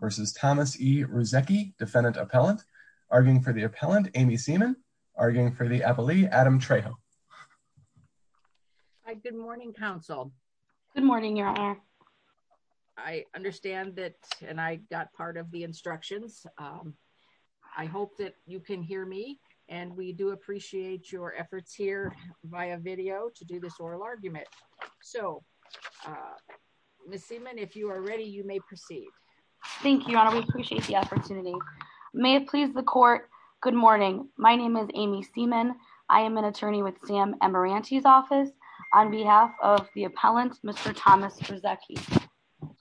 v. Thomas E. Ruzecki, defendant appellant, arguing for the appellant, Amy Seaman, arguing for the appellee, Adam Trejo. Good morning, counsel. Good morning, Your Honor. I understand that, and I got part of the instructions. I hope that you can hear me, and we do appreciate your efforts here via video to do this oral argument. So, Miss Seaman, if you are ready, you may proceed. Thank you, Your Honor. We appreciate the opportunity. May it please the court, good morning. My name is Amy Seaman. I am an attorney with Sam Amaranti's office on behalf of the appellant, Mr. Thomas Ruzecki.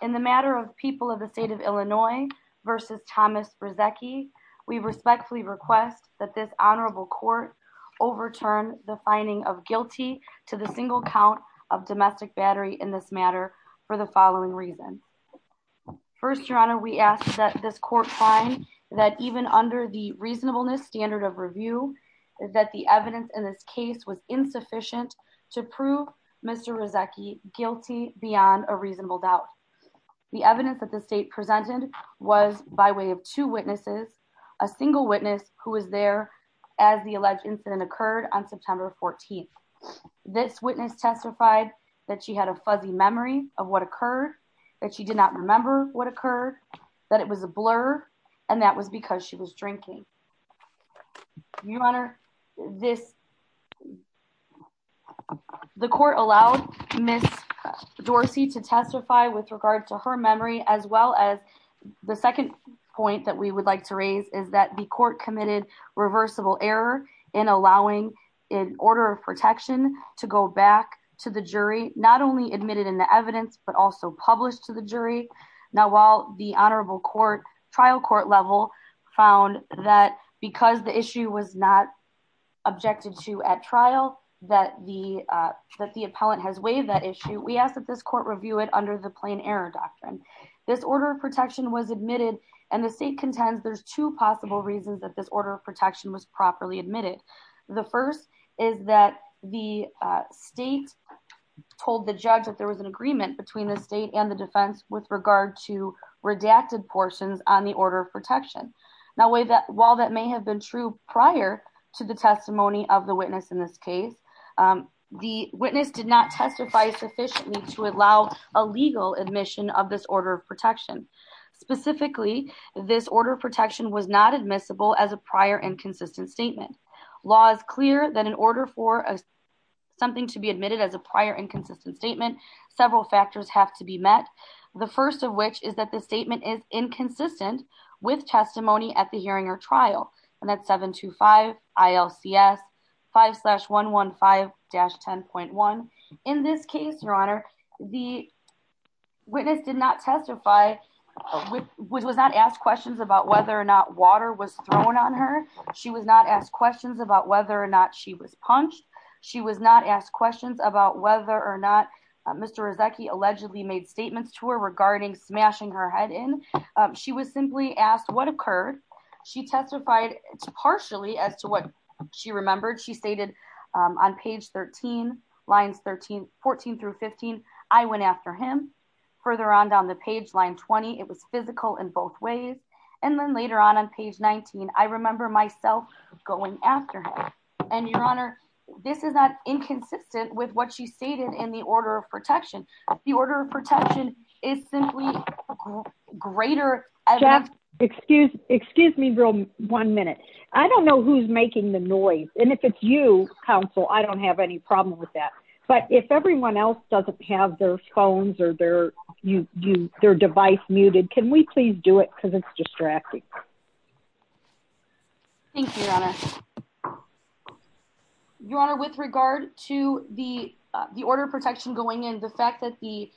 In the matter of People of the State of Illinois v. Thomas Ruzecki, we respectfully request that this honorable court overturn the finding of guilty to the single count of domestic battery in this matter for the following reasons. First, Your Honor, we ask that this court find that even under the reasonableness standard of review, that the evidence in this case was insufficient to prove Mr. Ruzecki guilty beyond a reasonable doubt. The evidence that the state presented was by way of two witnesses, a single witness who was there as the alleged incident occurred on September 14th. This witness testified that she had a fuzzy memory of what occurred, that she did not remember what occurred, that it was a blur, and that was because she was drinking. Your Honor, the court allowed Ms. Dorsey to testify with regard to her memory as well as the second point that we would like to raise is that the court committed reversible error in allowing an order of protection to go back to the jury, not only admitted in the evidence, but also published to the jury. Now, while the honorable trial court level found that because the issue was not objected to at trial, that the appellant has waived that issue, we ask that this court review it under the plain error doctrine. This order of protection was admitted, and the state contends there's two possible reasons that this order of protection was properly admitted. The first is that the state told the judge that there was an agreement between the state and the defense with regard to redacted portions on the order of protection. Now, while that may have been true prior to the testimony of the witness in this case, the witness did not testify sufficiently to allow a legal admission of this order of protection. Specifically, this order of protection was not admissible as a prior inconsistent statement. Law is clear that in order for something to be admitted as a prior inconsistent statement, several factors have to be met. The first of which is that the statement is inconsistent with testimony at the hearing or trial, and that's 725 ILCS 5 slash 115 dash 10.1. In this case, Your Honor, the witness did not testify, which was not asked questions about whether or not water was thrown on her. She was not asked questions about whether or not she was punched. She was not asked questions about whether or not Mr. Brzezinski allegedly made statements to her regarding smashing her head in. She was simply asked what occurred. She testified partially as to what she remembered. She stated on page 13, lines 14 through 15, I went after him. Further on down the page, line 20, it was physical in both ways. And then later on, on page 19, I remember myself going after him. And Your Honor, this is not inconsistent with what she stated in the order of protection. The order of protection is simply greater. Excuse, excuse me, one minute. I don't know who's making the noise. And if it's you, counsel, I don't have any problem with that. But if everyone else doesn't have their phones or their you use their device muted, can we please do it because it's distracting. Thank you, Your Honor. Your Honor, with regard to the the order of protection going in the fact that the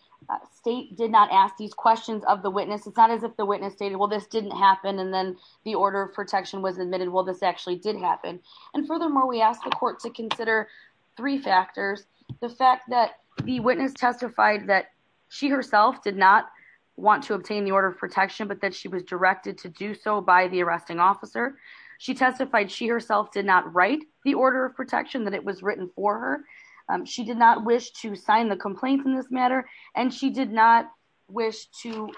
state did not ask these questions of the witness, it's not as if the witness stated, well, this didn't happen. And then the order of protection was admitted. Well, this actually did happen. And furthermore, we asked the court to consider three factors. The fact that the witness testified that she herself did not want to obtain the order of protection, but that she was directed to do so by the arresting officer. She testified she herself did not write the order of protection that it was written for her. She did not wish to sign the complaints in this matter. And she did not wish to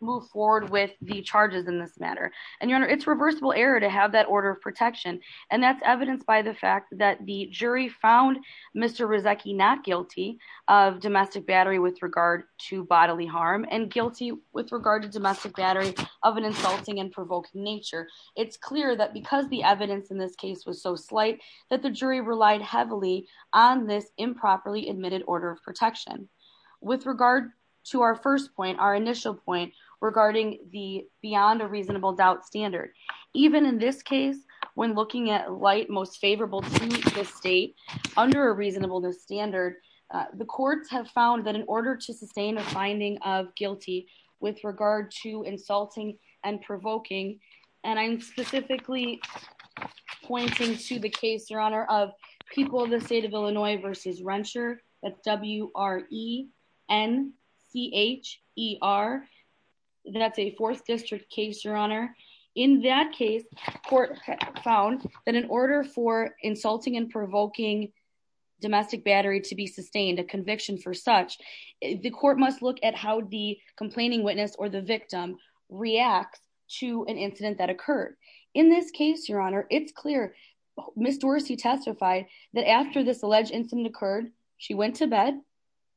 move forward with the charges in this matter. And Your Honor, it's reversible error to have that order of protection. And that's evidenced by the fact that the jury found Mr. Rizeki not guilty of domestic battery with regard to bodily harm and guilty with regard to domestic battery of an insulting and provoking nature. It's clear that because the evidence in this case was so slight that the jury relied heavily on this improperly admitted order of protection. With regard to our first point, our initial point regarding the beyond a reasonable doubt standard. Even in this case, when looking at light, most favorable to the state under a reasonableness standard, the courts have found that in order to sustain a finding of guilty with regard to insulting and provoking. And I'm specifically pointing to the case, Your Honor, of people in the state of Illinois versus Rensher. That's W-R-E-N-C-H-E-R. That's a fourth district case, Your Honor. In that case, the court found that in order for insulting and provoking domestic battery to be sustained, a conviction for such, the court must look at how the complaining witness or the victim reacts to an incident that occurred. In this case, Your Honor, it's clear. Ms. Dorsey testified that after this alleged incident occurred, she went to bed.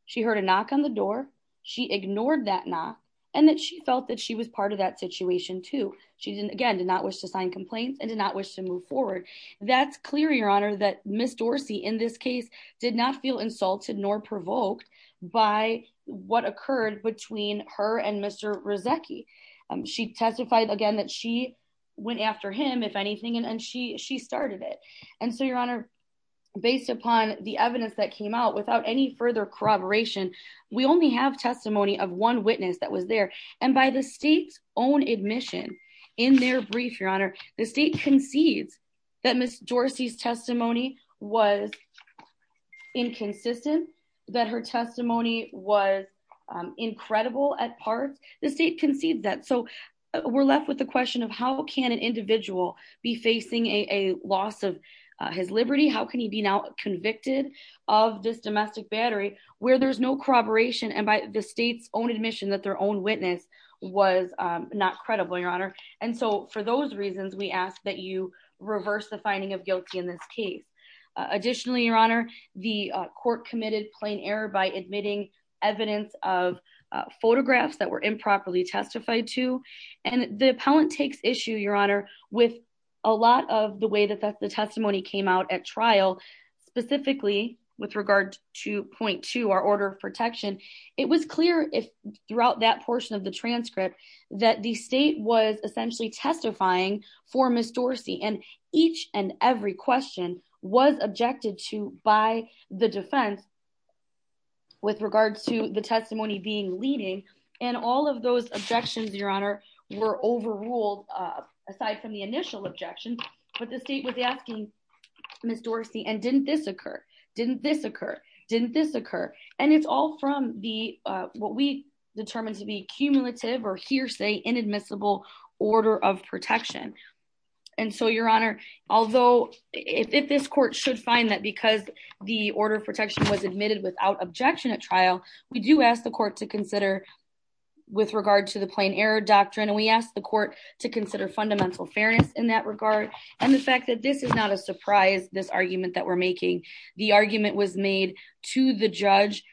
She heard a knock on the door. She ignored that knock and that she felt that she was part of that situation too. She didn't, again, did not wish to sign complaints and did not wish to move forward. That's clear, Your Honor, that Ms. Dorsey in this case did not feel insulted nor provoked by what occurred between her and Mr. Rezecki. She testified again that she went after him, if anything, and she started it. And so, Your Honor, based upon the evidence that came out, without any further corroboration, we only have testimony of one witness that was there. And by the state's own admission in their brief, Your Honor, the state concedes that Ms. Dorsey's testimony was inconsistent, that her testimony was incredible at parts. The state concedes that. So we're left with the question of how can an individual be facing a loss of his liberty? How can he be now convicted of this domestic battery where there's no corroboration and by the state's own admission that their own witness was not credible, Your Honor? And so for those reasons, we ask that you reverse the finding of guilty in this case. Additionally, Your Honor, the court committed plain error by admitting evidence of photographs that were improperly testified to. And the appellant takes issue, Your Honor, with a lot of the way that the testimony came out at trial, specifically with regard to point two, our order of protection. It was clear throughout that portion of the transcript that the state was essentially testifying for Ms. Dorsey and each and every question was objected to by the defense with regards to the testimony being leading and all of those objections, Your Honor, were overruled aside from the initial objection. But the state was asking Ms. Dorsey, and didn't this occur? Didn't this occur? Didn't this occur? And it's all from the what we determined to be cumulative or hearsay inadmissible order of protection. And so, Your Honor, although if this court should find that because the order of protection was admitted without objection at trial, we do ask the court to consider with regard to the plain error doctrine and we ask the court to consider fundamental fairness in that regard. And the fact that this is not a surprise, this argument that we're making, the argument was made to the judge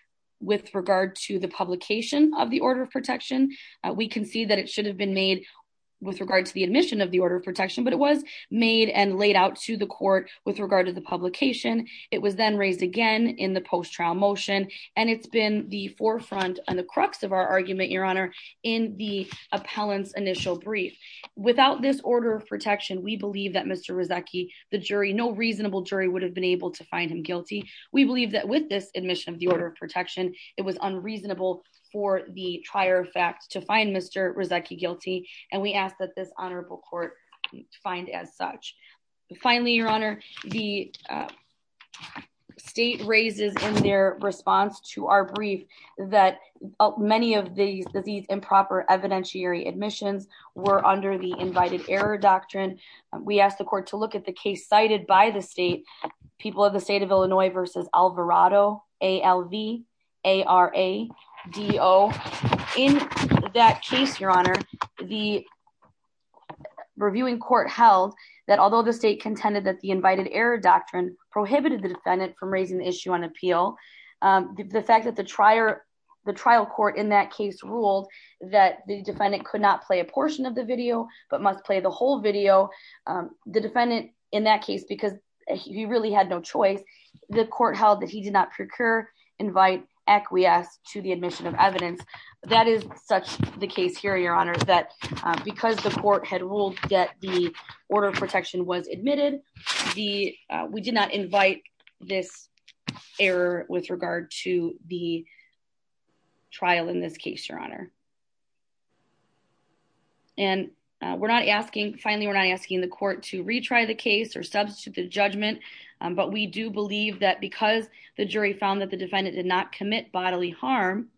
with regard to the publication of the order of protection. We can see that it should have been made with regard to the admission of the order of protection, but it was made and laid out to the court with regard to the publication. It was then raised again in the post trial motion, and it's been the forefront and the crux of our argument, Your Honor, in the appellant's initial brief. Without this order of protection, we believe that Mr. Rezeki, the jury, no reasonable jury would have been able to find him guilty. We believe that with this admission of the order of protection, it was unreasonable for the trier of fact to find Mr. Rezeki guilty, and we ask that this honorable court find as such. Finally, Your Honor, the state raises in their response to our brief that many of these improper evidentiary admissions were under the invited error doctrine. We asked the court to look at the case cited by the state, people of the state of Illinois versus Alvarado, A-L-V-A-R-A-D-O. In that case, Your Honor, the reviewing court held that although the state contended that the invited error doctrine prohibited the defendant from raising the issue on appeal, the fact that the trial court in that case ruled that the defendant could not play a portion of the video but must play the whole video, the defendant in that case, because he really had no choice, the court held that he did not procure, invite, acquiesce to the admission of evidence. That is such the case here, Your Honor, that because the court had ruled that the order of protection was admitted, we did not invite this error with regard to the trial in this case, Your Honor. And we're not asking, finally, we're not asking the court to retry the case or substitute the judgment, but we do believe that because the jury found that the defendant did not commit bodily harm,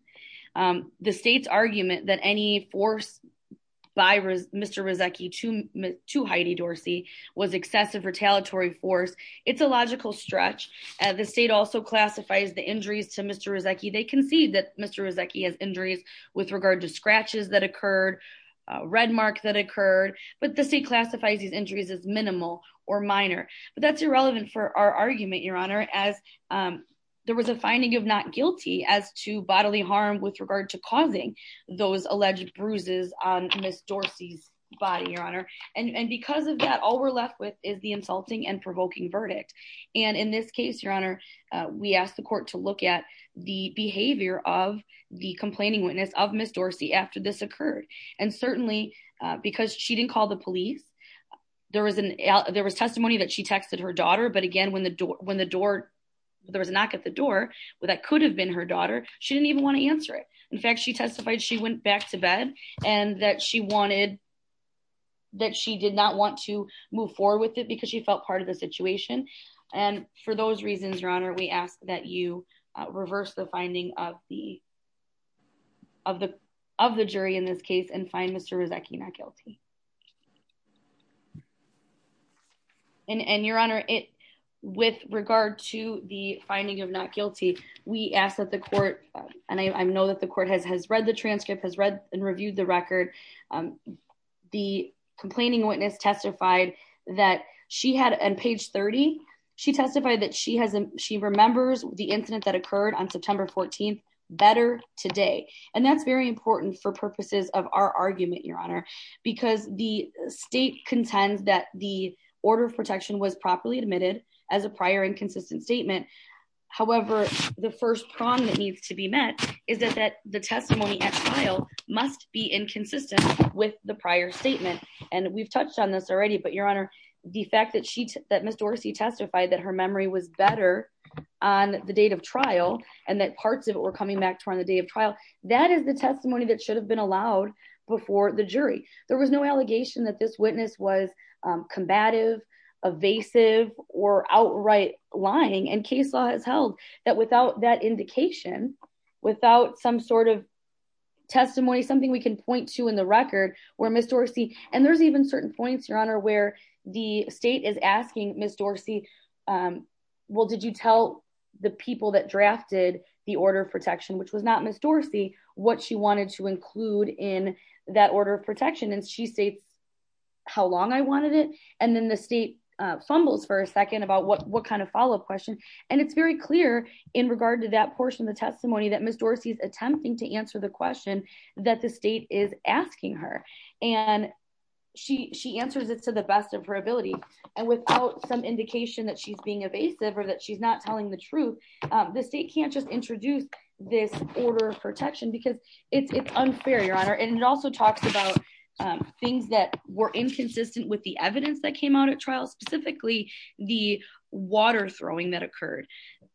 the state's argument that any force by Mr. Rzecki to Heidi Dorsey was excessive retaliatory force, it's a logical stretch. The state also classifies the injuries to Mr. Rzecki. They concede that Mr. Rzecki has injuries with regard to scratches that occurred, red mark that occurred, but the state classifies these injuries as minimal or minor. But that's irrelevant for our argument, Your Honor, as there was a finding of not guilty as to bodily harm with regard to causing those alleged bruises on Ms. Dorsey's body, Your Honor. And because of that, all we're left with is the insulting and provoking verdict. And in this case, Your Honor, we asked the court to look at the behavior of the complaining witness of Ms. Dorsey after this occurred. And certainly, because she didn't call the police, there was testimony that she texted her daughter, but again, when the door, there was a knock at the door, that could have been her daughter, she didn't even want to answer it. In fact, she testified she went back to bed and that she wanted, that she did not want to move forward with it because she felt part of the situation. And for those reasons, Your Honor, we ask that you reverse the finding of the, of the, of the jury in this case and find Mr. Rzecki not guilty. And Your Honor, it, with regard to the finding of not guilty, we ask that the court, and I know that the court has, has read the transcript, has read and reviewed the record. The complaining witness testified that she had, on page 30, she testified that she has, she remembers the incident that occurred on September 14th better today. And that's very important for purposes of our argument, Your Honor, because the state contends that the order of protection was properly admitted as a prior inconsistent statement. However, the first prong that needs to be met is that that the testimony at trial must be inconsistent with the prior statement. And we've touched on this already, but Your Honor, the fact that she, that Ms. Dorsey testified that her memory was better on the date of trial, and that parts of it were coming back to her on the day of trial. That is the testimony that should have been allowed before the jury. There was no allegation that this witness was combative, evasive, or outright lying. And case law has held that without that indication, without some sort of testimony, something we can point to in the record, where Ms. Dorsey, and there's even certain points, Your Honor, where the state is asking Ms. Dorsey, well, did you tell the people that drafted the order of protection, which was not Ms. Dorsey, what she wanted to include in that order of protection? And she states how long I wanted it. And then the state fumbles for a second about what kind of follow up question. And it's very clear in regard to that portion of the testimony that Ms. Dorsey is attempting to answer the question that the state is asking her. And she answers it to the best of her ability. And without some indication that she's being evasive or that she's not telling the truth, the state can't just introduce this order of protection because it's unfair, Your Honor. And it also talks about things that were inconsistent with the evidence that came out at trial, specifically the water throwing that occurred.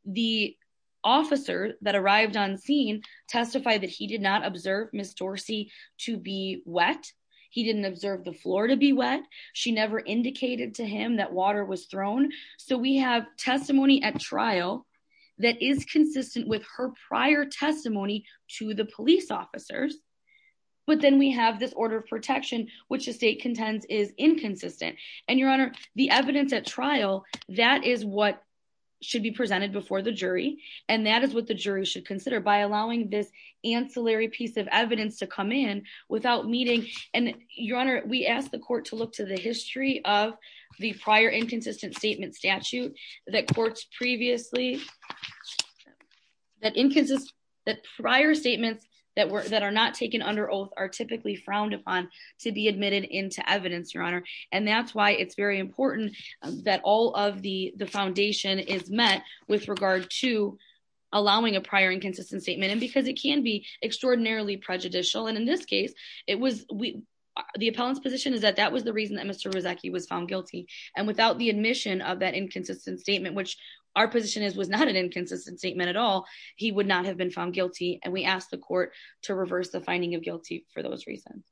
The officer that arrived on scene testified that he did not observe Ms. Dorsey to be wet. He didn't observe the floor to be wet. She never indicated to him that water was thrown. So we have testimony at trial that is consistent with her prior testimony to the police officers. But then we have this order of protection, which the state contends is inconsistent. And, Your Honor, the evidence at trial, that is what should be presented before the jury. And that is what the jury should consider by allowing this ancillary piece of evidence to come in without meeting. And, Your Honor, we asked the court to look to the history of the prior inconsistent statement statute that courts previously. That inconsistent prior statements that were that are not taken under oath are typically frowned upon to be admitted into evidence, Your Honor. And that's why it's very important that all of the foundation is met with regard to allowing a prior inconsistent statement. And because it can be extraordinarily prejudicial. And in this case, it was the appellant's position is that that was the reason that Mr. And without the admission of that inconsistent statement, which our position is was not an inconsistent statement at all. He would not have been found guilty. And we asked the court to reverse the finding of guilty for those reasons.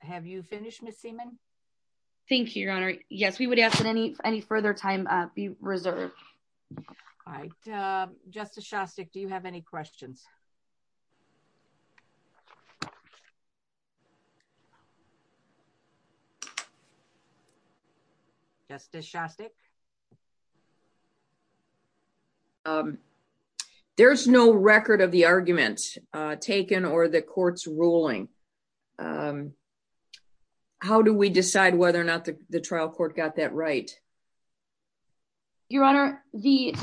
Have you finished, Ms. Seaman? Thank you, Your Honor. Yes, we would ask that any any further time be reserved. All right. Justice Shostak, do you have any questions? Justice Shostak. There's no record of the argument taken or the court's ruling. How do we decide whether or not the trial court got that right? Your Honor, the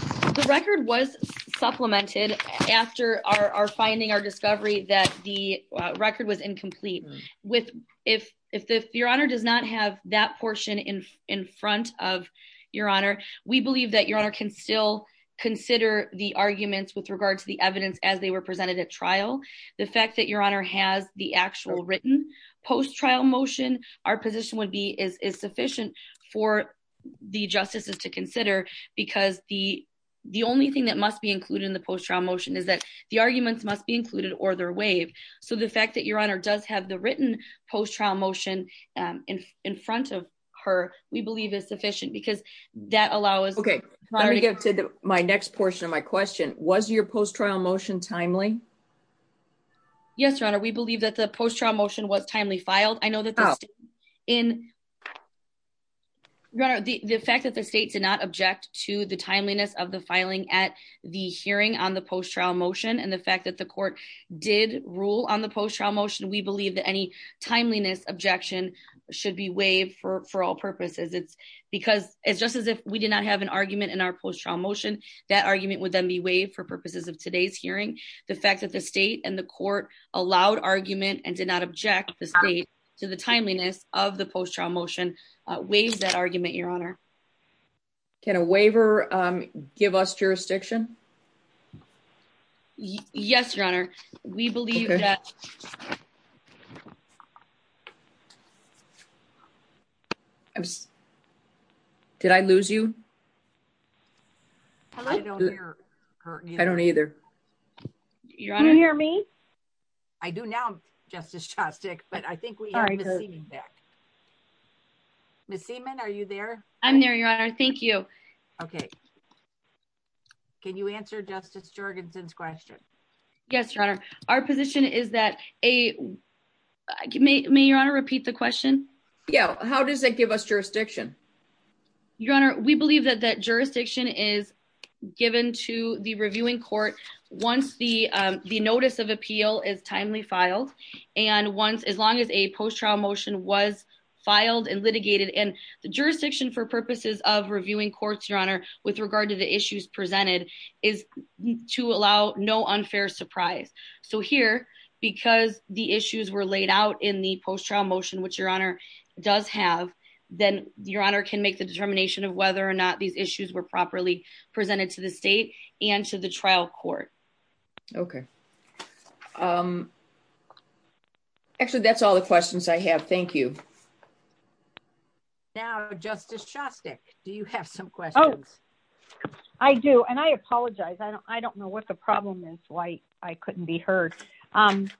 record was supplemented after our finding, our discovery that the record was incomplete with. If if the your honor does not have that portion in in front of your honor, we believe that your honor can still consider the arguments with regard to the evidence as they were presented at trial. The fact that your honor has the actual written post-trial motion, our position would be is sufficient for the justices to consider because the the only thing that must be included in the post-trial motion is that the arguments must be included or their waive. So the fact that your honor does have the written post-trial motion in front of her, we believe is sufficient because that allows. Okay, let me get to my next portion of my question. Was your post-trial motion timely? Yes, Your Honor. We believe that the post-trial motion was timely filed. I know that in the fact that the state did not object to the timeliness of the filing at the hearing on the post-trial motion and the fact that the court did rule on the post-trial motion. We believe that any timeliness objection should be waived for all purposes. It's because it's just as if we did not have an argument in our post-trial motion, that argument would then be waived for purposes of today's hearing. The fact that the state and the court allowed argument and did not object the state to the timeliness of the post-trial motion waives that argument, your honor. Can a waiver give us jurisdiction? Yes, Your Honor. We believe that... Did I lose you? I don't hear her. I don't either. Your Honor. Can you hear me? I do now, Justice Shostak, but I think we have Ms. Seaman back. Ms. Seaman, are you there? I'm there, Your Honor. Thank you. Okay. Can you answer Justice Jorgensen's question? Yes, Your Honor. Our position is that a... May Your Honor repeat the question? Yeah. How does it give us jurisdiction? Your Honor, we believe that that jurisdiction is given to the reviewing court once the notice of appeal is timely filed. And once, as long as a post-trial motion was filed and litigated in the jurisdiction for purposes of reviewing courts, Your Honor, with regard to the issues presented, is to allow no unfair surprise. So here, because the issues were laid out in the post-trial motion, which Your Honor does have, then Your Honor can make the determination of whether or not these issues were properly presented to the state and to the trial court. Okay. Actually, that's all the questions I have. Thank you. Now, Justice Shostak, do you have some questions? I do, and I apologize. I don't know what the problem is, why I couldn't be heard. One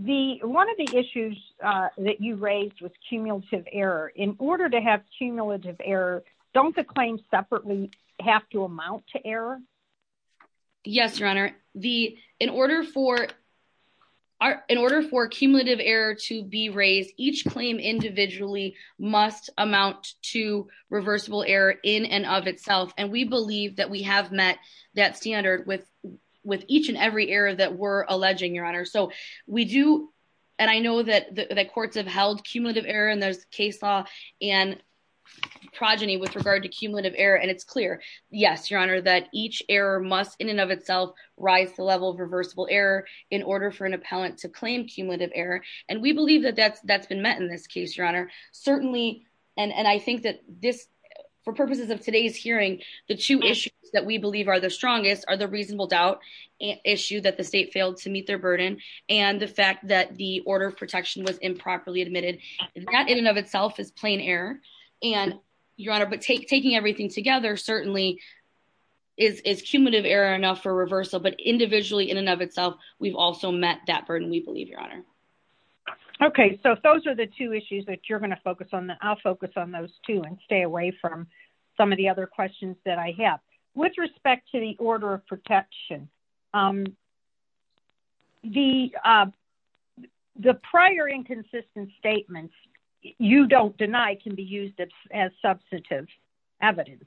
of the issues that you raised was cumulative error. In order to have cumulative error, don't the claims separately have to amount to error? Yes, Your Honor. In order for cumulative error to be raised, each claim individually must amount to reversible error in and of itself. And we believe that we have met that standard with each and every error that we're alleging, Your Honor. And I know that courts have held cumulative error in this case law and progeny with regard to cumulative error, and it's clear. Yes, Your Honor, that each error must, in and of itself, rise to the level of reversible error in order for an appellant to claim cumulative error. And we believe that that's been met in this case, Your Honor. Certainly, and I think that this, for purposes of today's hearing, the two issues that we believe are the strongest are the reasonable doubt issue that the state failed to meet their burden, and the fact that the order of protection was improperly admitted. That, in and of itself, is plain error. And, Your Honor, but taking everything together certainly is cumulative error enough for reversal, but individually, in and of itself, we've also met that burden, we believe, Your Honor. Okay, so those are the two issues that you're going to focus on. I'll focus on those, too, and stay away from some of the other questions that I have. With respect to the order of protection, the prior inconsistent statements you don't deny can be used as substantive evidence,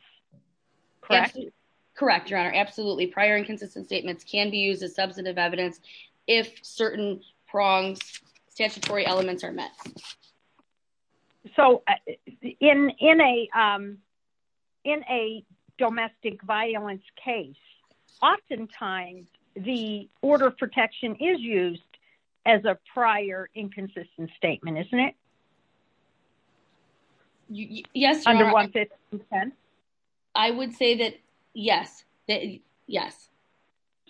correct? Correct, Your Honor. Absolutely. Prior inconsistent statements can be used as substantive evidence if certain pronged statutory elements are met. So, in a domestic violence case, oftentimes the order of protection is used as a prior inconsistent statement, isn't it? Yes, Your Honor. Under 15010? I would say that yes, yes.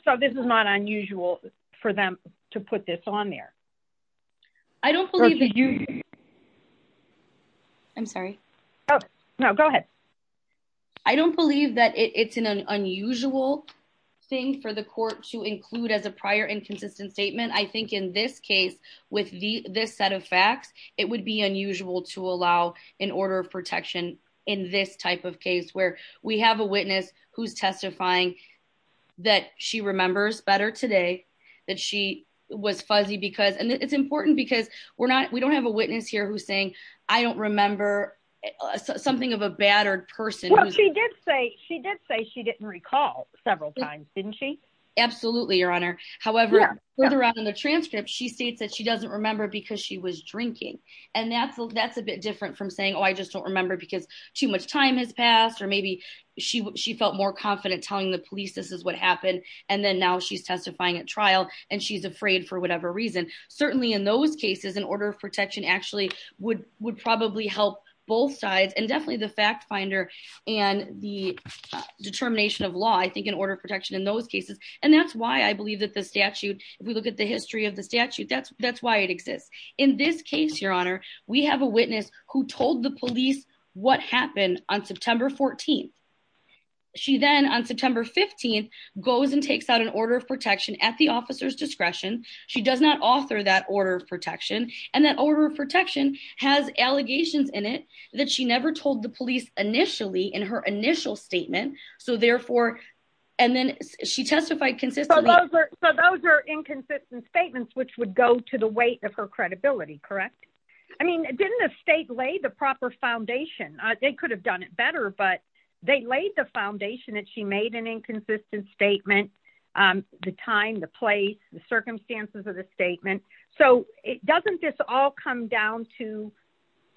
So this is not unusual for them to put this on there? I don't believe that you... I'm sorry. No, go ahead. I don't believe that it's an unusual thing for the court to include as a prior inconsistent statement. I think in this case, with this set of facts, it would be unusual to allow an order of protection in this type of case, where we have a witness who's testifying that she remembers better today, that she was fuzzy because... It's important because we don't have a witness here who's saying, I don't remember something of a battered person. Well, she did say she didn't recall several times, didn't she? Absolutely, Your Honor. However, further on in the transcript, she states that she doesn't remember because she was drinking. And that's a bit different from saying, oh, I just don't remember because too much time has passed, or maybe she felt more confident telling the police this is what happened, and then now she's testifying at trial, and she's afraid for whatever reason. Certainly in those cases, an order of protection actually would probably help both sides, and definitely the fact finder and the determination of law, I think, in order of protection in those cases. And that's why I believe that the statute, if we look at the history of the statute, that's why it exists. In this case, Your Honor, we have a witness who told the police what happened on September 14th. She then, on September 15th, goes and takes out an order of protection at the officer's discretion. She does not author that order of protection. And that order of protection has allegations in it that she never told the police initially in her initial statement. So therefore, and then she testified consistently. So those are inconsistent statements, which would go to the weight of her credibility, correct? I mean, didn't the state lay the proper foundation? They could have done it better, but they laid the foundation that she made an inconsistent statement, the time, the place, the circumstances of the statement. So doesn't this all come down to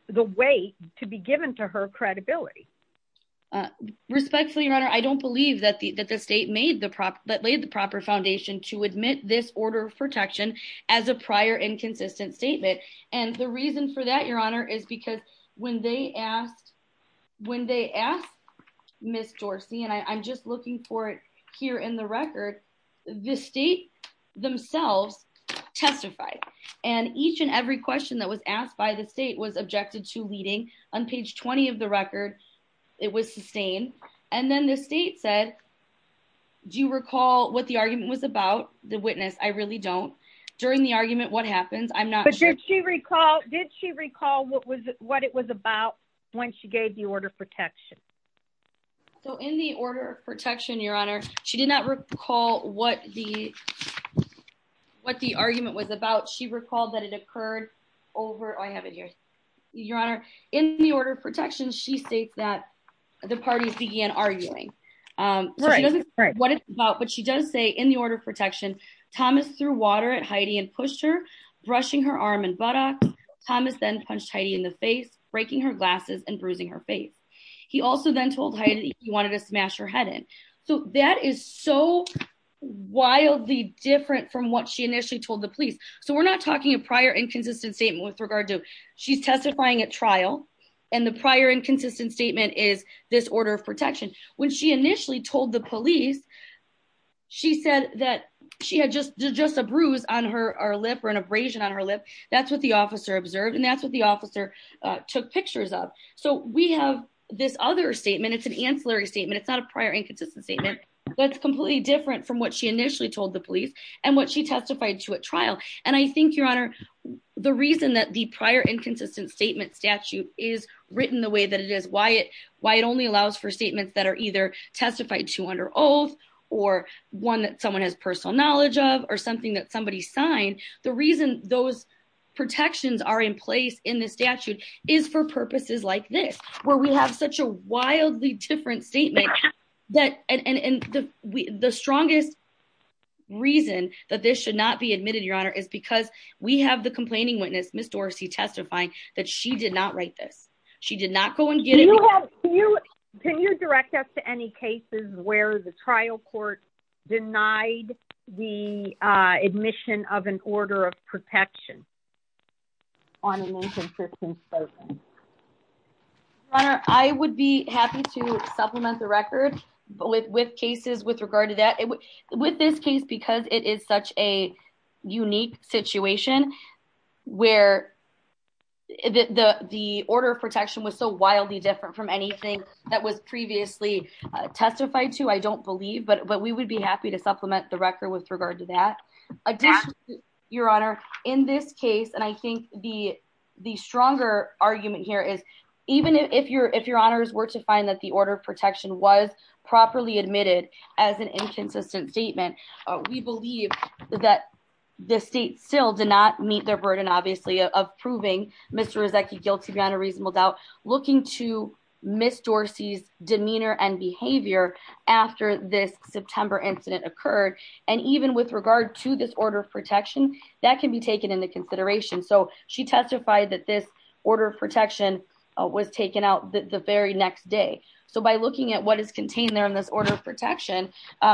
the weight to be given to her credibility? Respectfully, Your Honor, I don't believe that the state laid the proper foundation to admit this order of protection as a prior inconsistent statement. And the reason for that, Your Honor, is because when they asked Ms. Dorsey, and I'm just looking for it here in the record, the state themselves testified. And each and every question that was asked by the state was objected to leading. On page 20 of the record, it was sustained. And then the state said, do you recall what the argument was about? The witness, I really don't. During the argument, what happens? I'm not sure. Did she recall what it was about when she gave the order of protection? So in the order of protection, Your Honor, she did not recall what the argument was about. She recalled that it occurred over – oh, I have it here. Your Honor, in the order of protection, she states that the parties began arguing. So she doesn't say what it's about, but she does say in the order of protection, Thomas threw water at Heidi and pushed her, brushing her arm and buttock. Thomas then punched Heidi in the face, breaking her glasses and bruising her face. He also then told Heidi he wanted to smash her head in. So that is so wildly different from what she initially told the police. So we're not talking a prior inconsistent statement with regard to – she's testifying at trial, and the prior inconsistent statement is this order of protection. When she initially told the police, she said that she had just a bruise on her lip or an abrasion on her lip. That's what the officer observed, and that's what the officer took pictures of. So we have this other statement. It's an ancillary statement. It's not a prior inconsistent statement. That's completely different from what she initially told the police and what she testified to at trial. And I think, Your Honor, the reason that the prior inconsistent statement statute is written the way that it is, why it only allows for statements that are either testified to under oath or one that someone has personal knowledge of or something that somebody signed, the reason those protections are in place in the statute is for purposes like this, where we have such a wildly different statement. And the strongest reason that this should not be admitted, Your Honor, is because we have the complaining witness, Ms. Dorsey, testifying that she did not write this. She did not go and get it. Can you direct us to any cases where the trial court denied the admission of an order of protection on an inconsistent statement? Your Honor, I would be happy to supplement the record with cases with regard to that. With this case, because it is such a unique situation where the order of protection was so wildly different from anything that was previously testified to, I don't believe, but we would be happy to supplement the record with regard to that. Additionally, Your Honor, in this case, and I think the stronger argument here is, even if Your Honors were to find that the order of protection was properly admitted as an inconsistent statement, we believe that the state still did not meet their burden, obviously, of proving Mr. Rezeki guilty beyond a reasonable doubt, looking to Ms. Dorsey's demeanor and behavior after this September incident occurred. And even with regard to this order of protection, that can be taken into consideration. So she testified that this order of protection was taken out the very next day. So by looking at what is contained there in this order of protection,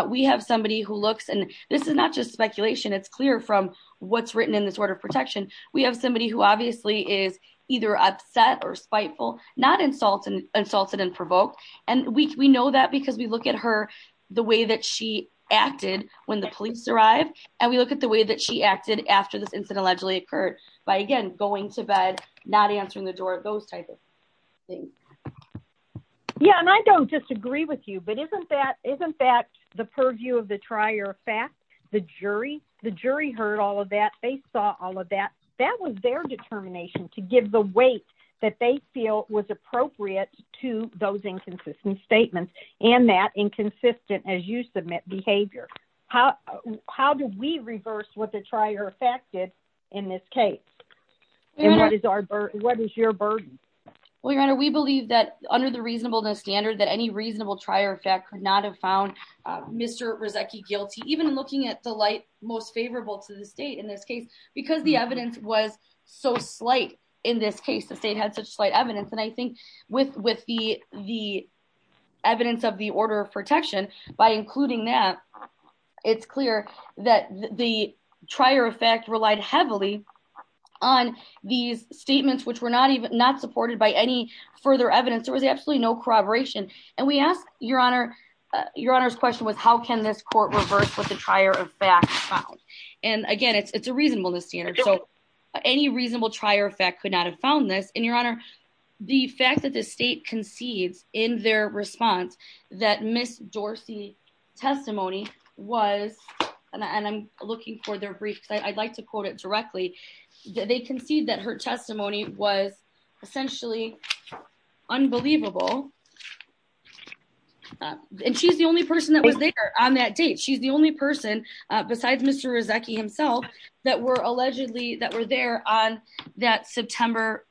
we have somebody who looks, and this is not just speculation, it's clear from what's written in this order of protection, we have somebody who obviously is either upset or spiteful, not insulted and provoked. And we know that because we look at her, the way that she acted when the police arrived, and we look at the way that she acted after this incident allegedly occurred by, again, going to bed, not answering the door, those types of things. Yeah, and I don't disagree with you, but isn't that the purview of the trier of fact? The jury heard all of that. They saw all of that. That was their determination to give the weight that they feel was appropriate to those inconsistent statements and that inconsistent, as you submit, behavior. How do we reverse what the trier of fact did in this case? And what is your burden? Well, Your Honor, we believe that under the reasonableness standard, that any reasonable trier of fact could not have found Mr. Rezeki guilty. Even looking at the light most favorable to the state in this case, because the evidence was so slight in this case, the state had such slight evidence. And I think with the evidence of the order of protection, by including that, it's clear that the trier of fact relied heavily on these statements, which were not supported by any further evidence. There was absolutely no corroboration. And we ask, Your Honor, Your Honor's question was, how can this court reverse what the trier of fact found? And again, it's a reasonableness standard. So any reasonable trier of fact could not have found this. And, Your Honor, the fact that the state concedes in their response that Miss Dorsey's testimony was, and I'm looking for their briefs, I'd like to quote it directly, they concede that her testimony was essentially unbelievable. And she's the only person that was there on that date. She's the only person besides Mr. Rezeki himself that were allegedly that were there on that September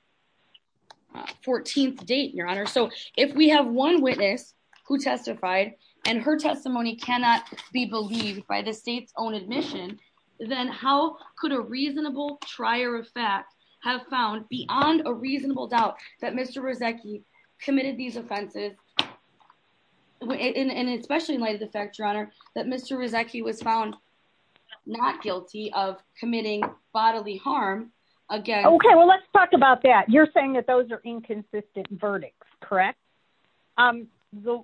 14th date, Your Honor. So if we have one witness who testified and her testimony cannot be believed by the state's own admission, then how could a reasonable trier of fact have found beyond a reasonable doubt that Mr. Rezeki committed these offenses? And especially in light of the fact, Your Honor, that Mr. Rezeki was found not guilty of committing bodily harm. Okay, well, let's talk about that. You're saying that those are inconsistent verdicts, correct? The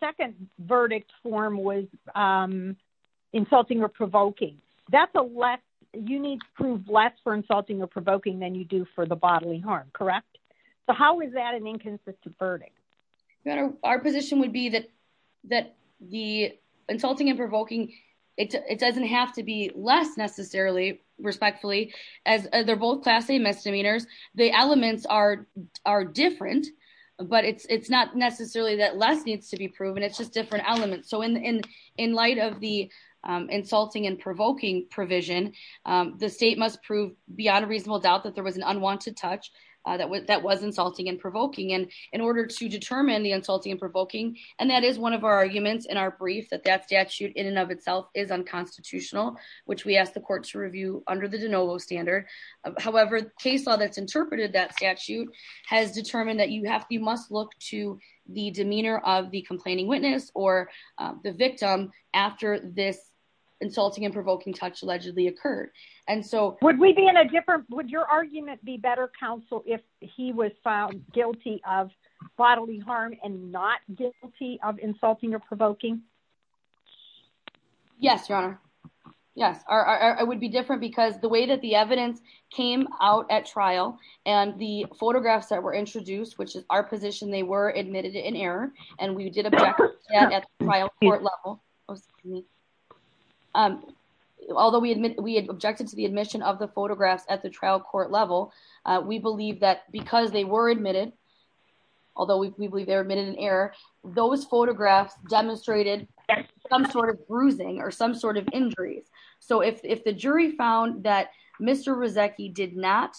second verdict form was insulting or provoking. That's a less, you need to prove less for insulting or provoking than you do for the bodily harm, correct? So how is that an inconsistent verdict? Your Honor, our position would be that the insulting and provoking, it doesn't have to be less necessarily, respectfully, as they're both class A misdemeanors. The elements are different, but it's not necessarily that less needs to be proven. It's just different elements. So in light of the insulting and provoking provision, the state must prove beyond a reasonable doubt that there was an unwanted touch that was insulting and provoking. And in order to determine the insulting and provoking, and that is one of our arguments in our brief that that statute in and of itself is unconstitutional, which we asked the court to review under the de novo standard. However, case law that's interpreted that statute has determined that you must look to the demeanor of the complaining witness or the victim after this insulting and provoking touch allegedly occurred. Would your argument be better, counsel, if he was found guilty of bodily harm and not guilty of insulting or provoking? Yes, Your Honor. Yes, I would be different because the way that the evidence came out at trial and the photographs that were introduced, which is our position, they were admitted in error. And we did at the trial court level. Although we admit we objected to the admission of the photographs at the trial court level, we believe that because they were admitted, although we believe they were admitted in error, those photographs demonstrated some sort of bruising or some sort of injuries. So if the jury found that Mr. Rizeki did not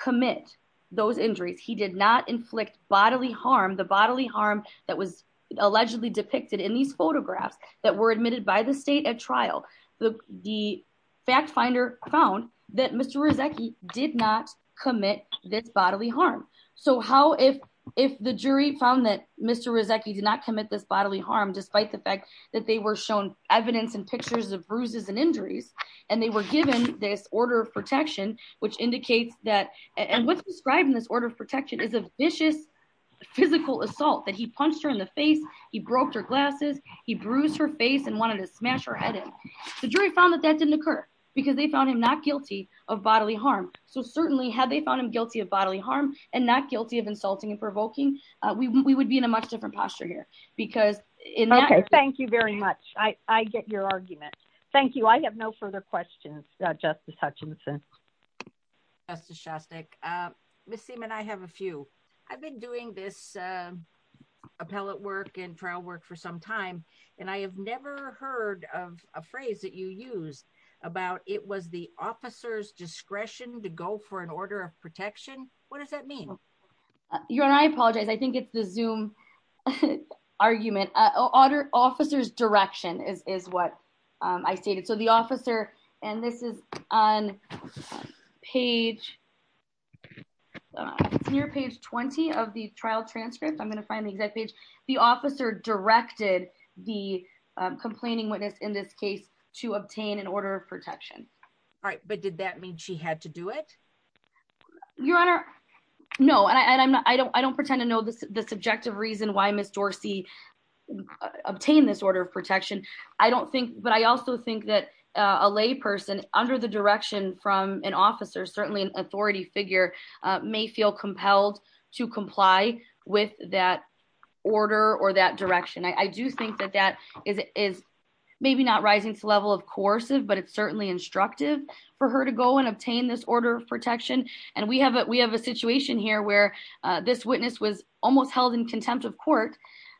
commit those injuries, he did not inflict bodily harm, the bodily harm that was allegedly depicted in these photographs that were admitted by the state at trial. The fact finder found that Mr. Rizeki did not commit this bodily harm. So how if if the jury found that Mr. Rizeki did not commit this bodily harm, despite the fact that they were shown evidence and pictures of bruises and injuries and they were given this order of protection, which indicates that and what's described in this order of protection is a vicious physical assault that he punched her in the face. He broke her glasses. He bruised her face and wanted to smash her head in. The jury found that that didn't occur because they found him not guilty of bodily harm. So certainly had they found him guilty of bodily harm and not guilty of insulting and provoking, we would be in a much different posture here because in that. Thank you very much. I get your argument. Thank you. I have no further questions. Justice Hutchinson. Justice Shostak, Miss Seaman, I have a few. I've been doing this appellate work and trial work for some time, and I have never heard of a phrase that you used about it was the officer's discretion to go for an order of protection. What does that mean? You and I apologize. I think it's the Zoom argument. Order officers direction is what I stated. So the officer and this is on page. Your page 20 of the trial transcript, I'm going to find the exact page. The officer directed the complaining witness in this case to obtain an order of protection. All right. But did that mean she had to do it? Your honor? No, I don't. I don't pretend to know the subjective reason why Miss Dorsey obtained this order of protection. I don't think but I also think that a lay person under the direction from an officer, certainly an authority figure may feel compelled to comply with that order or that direction. I do think that that is maybe not rising to the level of coercive, but it's certainly instructive for her to go and obtain this order of protection. And we have it. We have a situation here where this witness was almost held in contempt of court,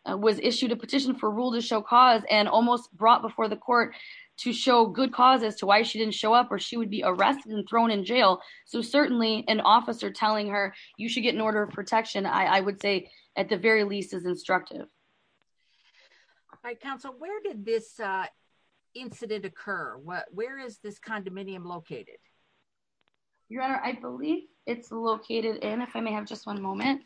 was issued a petition for rule to show cause and almost brought before the court to show good causes to why she didn't show up or she would be arrested and thrown in jail. So certainly an officer telling her you should get an order of protection, I would say, at the very least, is instructive. My counsel, where did this incident occur? Where is this condominium located? Your honor, I believe it's located in if I may have just one moment.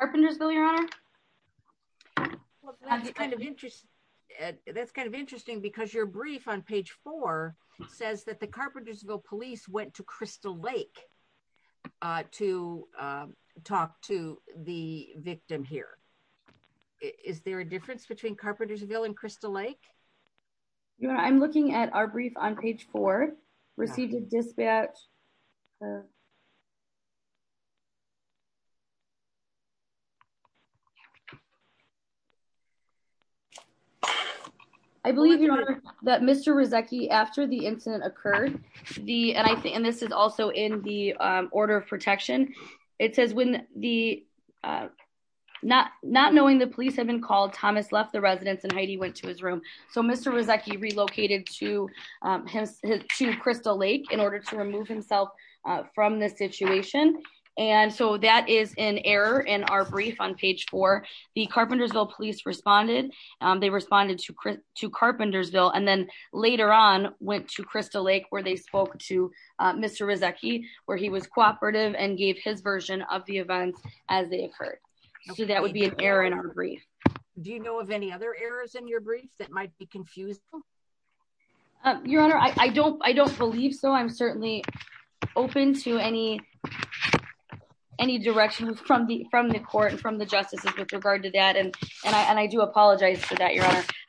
Carpentersville, your honor. That's kind of interesting because your brief on page four says that the Carpentersville police went to Crystal Lake to talk to the victim here. Is there a difference between Carpentersville and Crystal Lake? Your honor, I'm looking at our brief on page four, received a dispatch. I believe that Mr. Rezeki after the incident occurred, and this is also in the order of protection. It says when the not not knowing the police had been called, Thomas left the residence and Heidi went to his room. So Mr. Rezeki relocated to Crystal Lake in order to remove himself from the situation. And so that is an error in our brief on page four. The Carpentersville police responded. They responded to to Carpentersville and then later on went to Crystal Lake where they spoke to Mr. Rezeki, where he was cooperative and gave his version of the events as they occurred. So that would be an error in our brief. Do you know of any other errors in your brief that might be confused? Your honor, I don't I don't believe so. I'm certainly open to any any directions from the from the court and from the justices with regard to that. And I do apologize for that.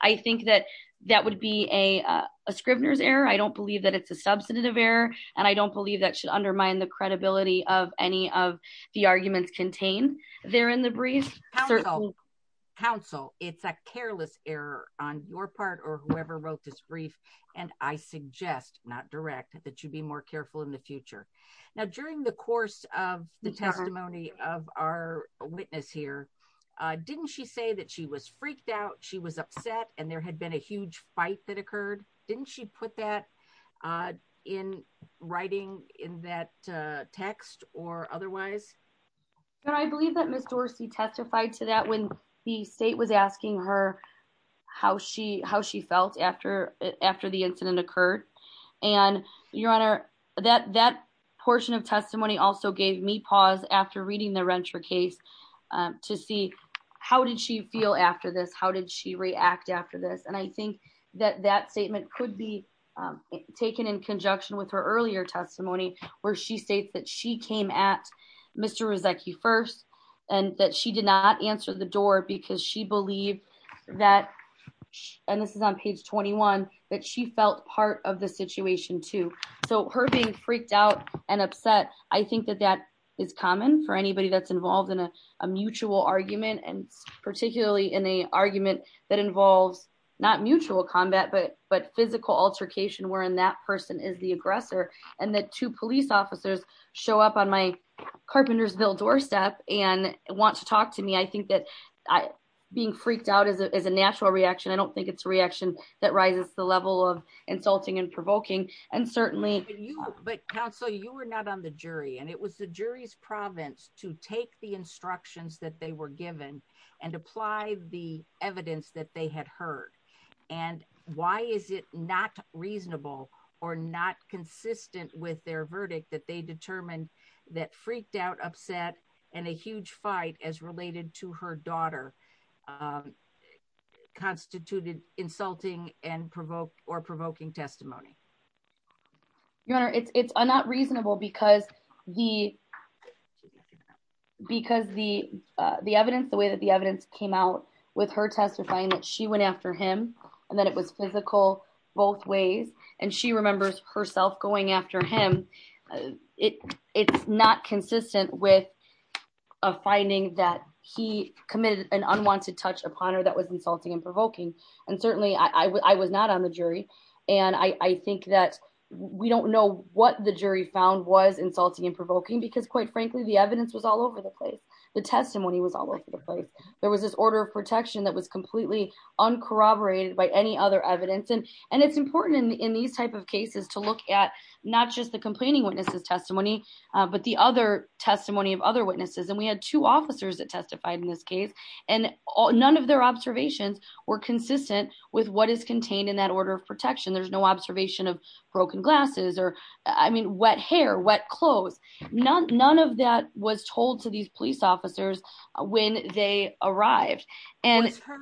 I think that that would be a Scribner's error. I don't believe that it's a substantive error, and I don't believe that should undermine the credibility of any of the arguments contained there in the brief. Counsel, it's a careless error on your part or whoever wrote this brief. And I suggest not direct that you'd be more careful in the future. Now, during the course of the testimony of our witness here, didn't she say that she was freaked out? She was upset and there had been a huge fight that occurred. Didn't she put that in writing in that text or otherwise? I believe that Miss Dorsey testified to that when the state was asking her how she how she felt after after the incident occurred. And your honor, that that portion of testimony also gave me pause after reading the renter case to see how did she feel after this? How did she react after this? And I think that that statement could be taken in conjunction with her earlier testimony where she states that she came at Mr. was like you first and that she did not answer the door because she believed that. And this is on page 21 that she felt part of the situation, too. I think that that is common for anybody that's involved in a mutual argument and particularly in the argument that involves not mutual combat, but but physical altercation where in that person is the aggressor. And the two police officers show up on my Carpentersville doorstep and want to talk to me. I think that I being freaked out is a natural reaction. I don't think it's a reaction that rises to the level of insulting and provoking. And certainly, you but counsel, you were not on the jury and it was the jury's province to take the instructions that they were given and apply the evidence that they had heard. And why is it not reasonable or not consistent with their verdict that they determined that freaked out upset and a huge fight as related to her daughter constituted insulting and provoke or provoking testimony. Your Honor, it's not reasonable because the because the the evidence the way that the evidence came out with her testifying that she went after him and that it was physical both ways. And she remembers herself going after him. It's not consistent with a finding that he committed an unwanted touch upon her that was insulting and provoking. And certainly I was not on the jury. And I think that we don't know what the jury found was insulting and provoking because quite frankly, the evidence was all over the place. The testimony was all over the place. There was this order of protection that was completely uncorroborated by any other evidence and and it's important in these type of cases to look at not just the complaining witnesses testimony, but the other testimony of other witnesses. And we had two officers that testified in this case, and none of their observations were consistent with what is contained in that order of protection. There's no observation of broken glasses or I mean wet hair wet clothes, none, none of that was told to these police officers. When they arrived, and it's her,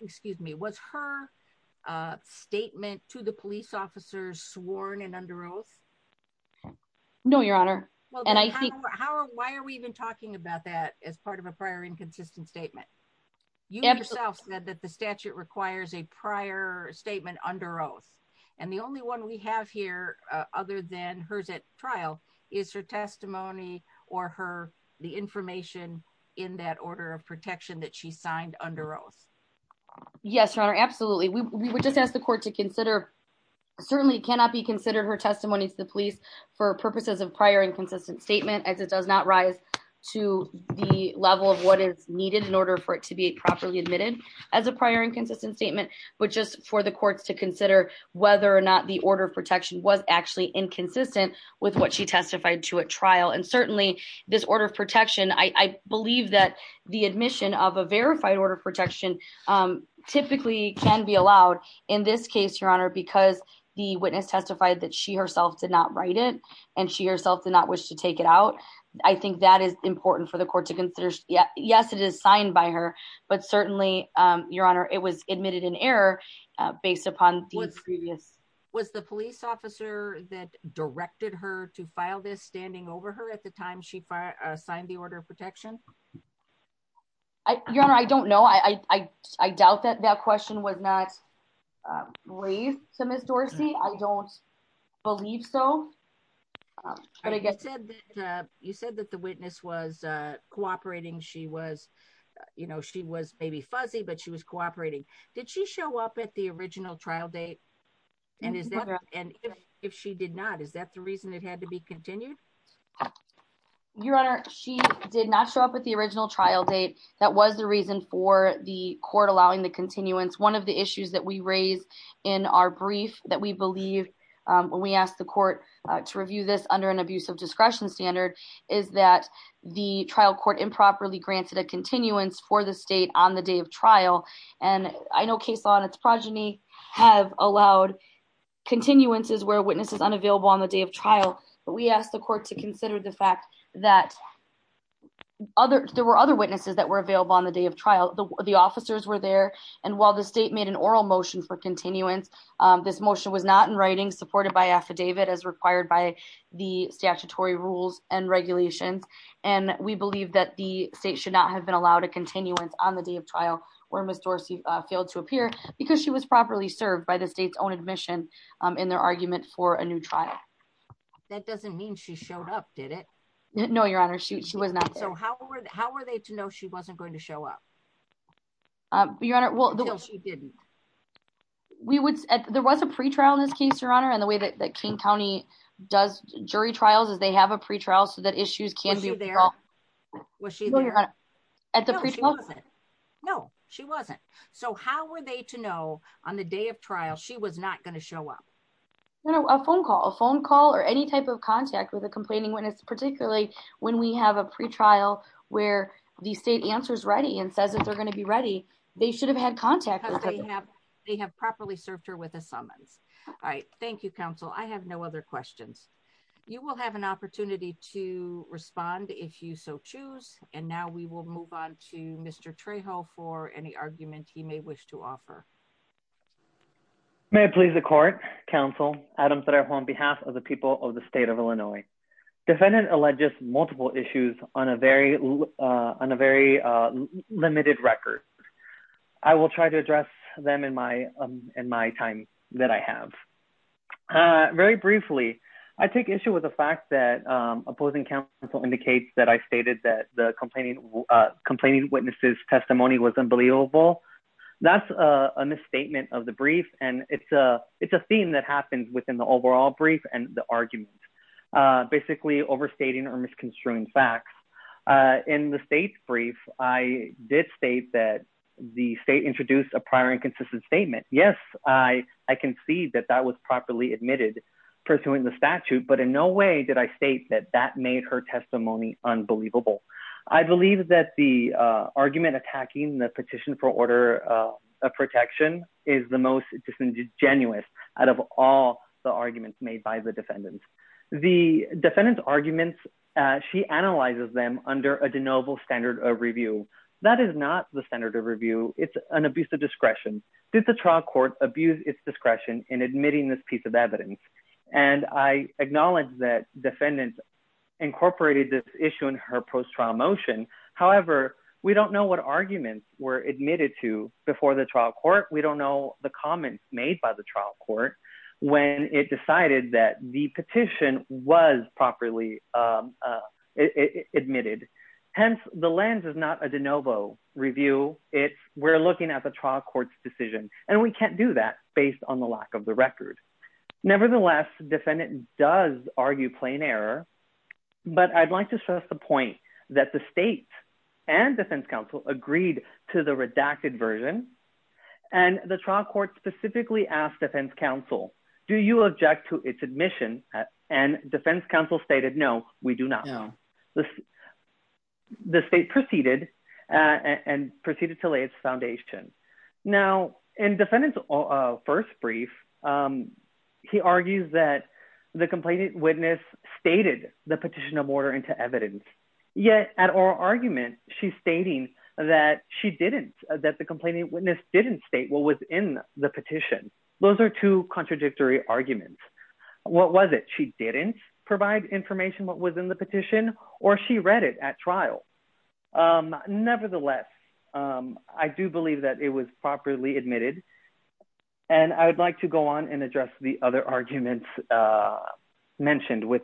excuse me was her statement to the police officers sworn and under oath. No, Your Honor. And I think, how are why are we even talking about that as part of a prior inconsistent statement. You yourself said that the statute requires a prior statement under oath. And the only one we have here, other than hers at trial is her testimony, or her, the information in that order of protection that she signed under oath. Yes, Your Honor. Absolutely. We would just ask the court to consider. Certainly cannot be considered her testimony to the police for purposes of prior inconsistent statement as it does not rise to the level of what is needed in order for it to be properly admitted as a prior inconsistent statement, but just for the courts to consider whether or not the order of protection was actually inconsistent with what she testified to a trial and certainly this order of protection, I believe that the admission of a verified order of protection, typically can be allowed. In this case, Your Honor, because the witness testified that she herself did not write it, and she herself did not wish to take it out. I think that is important for the court to consider. Yes, it is signed by her, but certainly, Your Honor, it was admitted in error, based upon the previous was the police officer that directed her to file this standing over her at the time she signed the order of protection. I don't know I doubt that that question was not. So Miss Dorsey, I don't believe so. But I guess you said that the witness was cooperating she was, you know, she was maybe fuzzy but she was cooperating. Did she show up at the original trial date. And if she did not, is that the reason it had to be continued. Your Honor, she did not show up at the original trial date. That was the reason for the court allowing the continuance one of the issues that we raised in our brief that we believe when we asked the court to review this under an abusive discretion standard, is that the trial court improperly granted a continuance for the state on the day of trial, and I know case on its progeny have allowed continuances where witnesses unavailable on the day of trial. But we asked the court to consider the fact that other there were other witnesses that were available on the day of trial, the officers were there. And while the state made an oral motion for continuance. This motion was not in writing supported by affidavit as required by the statutory rules and regulations. And we believe that the state should not have been allowed a continuance on the day of trial, or Miss Dorsey failed to appear because she was properly served by the state's own admission in their argument for a new trial. That doesn't mean she showed up did it know your honor shoot she was not so how are they to know she wasn't going to show up. We would, there was a pre trial in this case your honor and the way that King County does jury trials as they have a pre trial so that issues can be there. Was she at the pre. No, she wasn't. So how are they to know on the day of trial she was not going to show up. No, a phone call a phone call or any type of contact with a complaining when it's particularly when we have a pre trial, where the state answers ready and says that they're going to be ready. They should have had contact. They have properly served her with a summons. I thank you counsel I have no other questions. You will have an opportunity to respond if you so choose, and now we will move on to Mr Trejo for any argument he may wish to offer. May I please the court, counsel Adams that are home behalf of the people of the state of Illinois defendant alleges multiple issues on a very, on a very limited record. I will try to address them in my, in my time that I have very briefly. I take issue with the fact that opposing counsel indicates that I stated that the complaining complaining witnesses testimony was unbelievable. That's a misstatement of the brief, and it's a, it's a theme that happens within the overall brief and the argument. Basically overstating or misconstruing facts in the state's brief, I did state that the state introduced a prior inconsistent statement, yes, I, I can see that that was properly admitted pursuing the statute but in no way did I state that that made her testimony, unbelievable. I believe that the argument attacking the petition for order of protection is the most disingenuous out of all the arguments made by the defendants, the defendants arguments. She analyzes them under a de novo standard of review. That is not the standard of review, it's an abuse of discretion. Did the trial court abuse its discretion in admitting this piece of evidence. And I acknowledge that defendants incorporated this issue in her post trial motion. However, we don't know what arguments were admitted to before the trial court we don't know the comments made by the trial court. When it decided that the petition was properly admitted. Hence, the lens is not a de novo review, it's we're looking at the trial courts decision, and we can't do that, based on the lack of the record. Nevertheless, defendant does argue plain error. But I'd like to stress the point that the state and defense counsel agreed to the redacted version. And the trial court specifically asked defense counsel, do you object to its admission, and defense counsel stated no, we do not know the state proceeded and proceeded to lay its foundation. Now, and defendants first brief. He argues that the complainant witness stated the petition of order into evidence. Yet, at our argument, she's stating that she didn't that the complainant witness didn't state what was in the petition. Those are two contradictory arguments. What was it she didn't provide information what was in the petition, or she read it at trial. Nevertheless, I do believe that it was properly admitted. And I would like to go on and address the other arguments mentioned with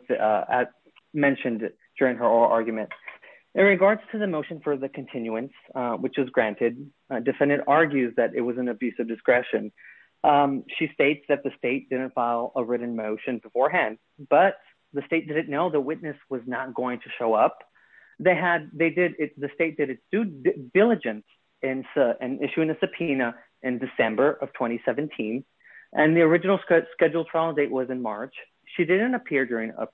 mentioned during her arguments in regards to the motion for the continuance, which is granted defendant argues that it was an abuse of discretion. She states that the state didn't file a written motion beforehand, but the state didn't know the witness was not going to show up. They had, they did it, the state did its due diligence in issuing a subpoena in December of 2017, and the original scheduled trial date was in March, she didn't appear during a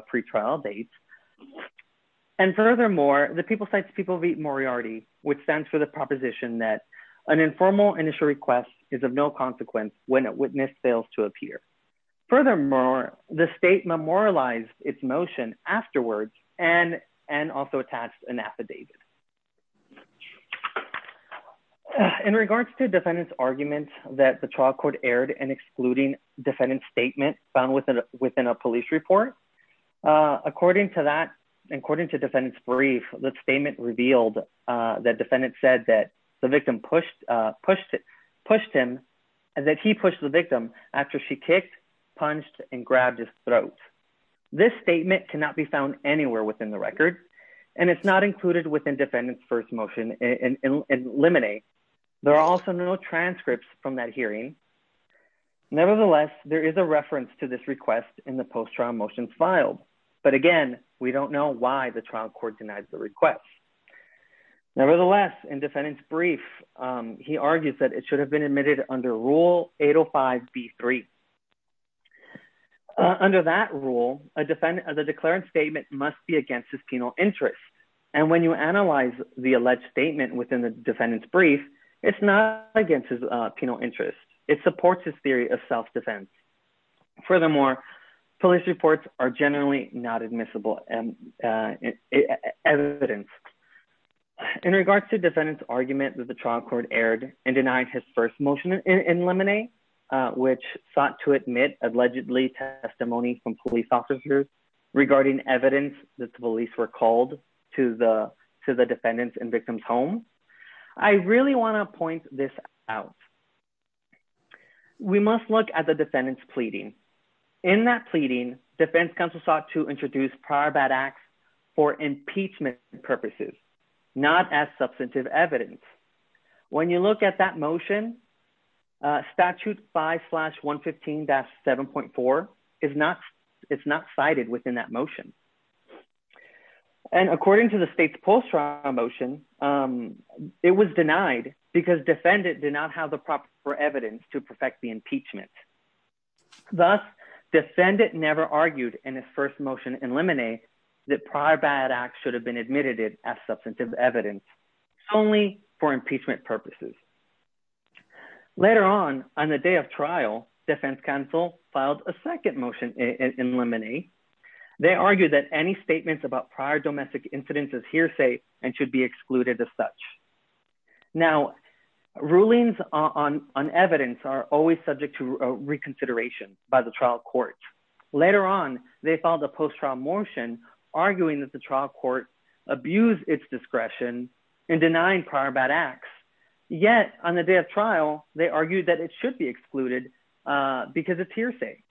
pre trial date. And furthermore, the people sites people V Moriarty, which stands for the proposition that an informal initial request is of no consequence, when a witness fails to appear. Furthermore, the state memorialized its motion afterwards, and, and also attached an affidavit. In regards to defendants arguments that the trial court aired and excluding defendant statement found within within a police report. According to that, according to defendants brief, the statement revealed that defendant said that the victim pushed, pushed, pushed him, and that he pushed the victim after she kicked punched and grabbed his throat. This statement cannot be found anywhere within the record, and it's not included within defendants first motion and eliminate. There are also no transcripts from that hearing. Nevertheless, there is a reference to this request in the post trial motion filed, but again, we don't know why the trial court denied the request. Nevertheless, and defendants brief. He argues that it should have been admitted under rule 805 b three. Under that rule, a defendant of the declarant statement must be against his penal interest. And when you analyze the alleged statement within the defendants brief. It's not against his penal interest, it supports his theory of self defense. Furthermore, police reports are generally not admissible and evidence. In regards to defendants argument that the trial court aired and denied his first motion and eliminate, which sought to admit allegedly testimony from police officers regarding evidence that the police were called to the to the defendants and victims home. I really want to point this out. We must look at the defendants pleading in that pleading defense counsel sought to introduce prior bad acts for impeachment purposes, not as substantive evidence. When you look at that motion statute five slash 115 that 7.4 is not. It's not cited within that motion. And according to the state's post trial motion. It was denied because defendant did not have the proper evidence to perfect the impeachment. Thus, defendant never argued in his first motion eliminate that prior bad act should have been admitted as substantive evidence, only for impeachment purposes. Later on, on the day of trial defense counsel filed a second motion and eliminate. They argue that any statements about prior domestic incidents is hearsay, and should be excluded as such. Now, rulings on on evidence are always subject to reconsideration by the trial court. Later on, they follow the post trial motion, arguing that the trial court abuse its discretion and denying prior bad acts. Yet, on the day of trial, they argued that it should be excluded. Because it's hearsay.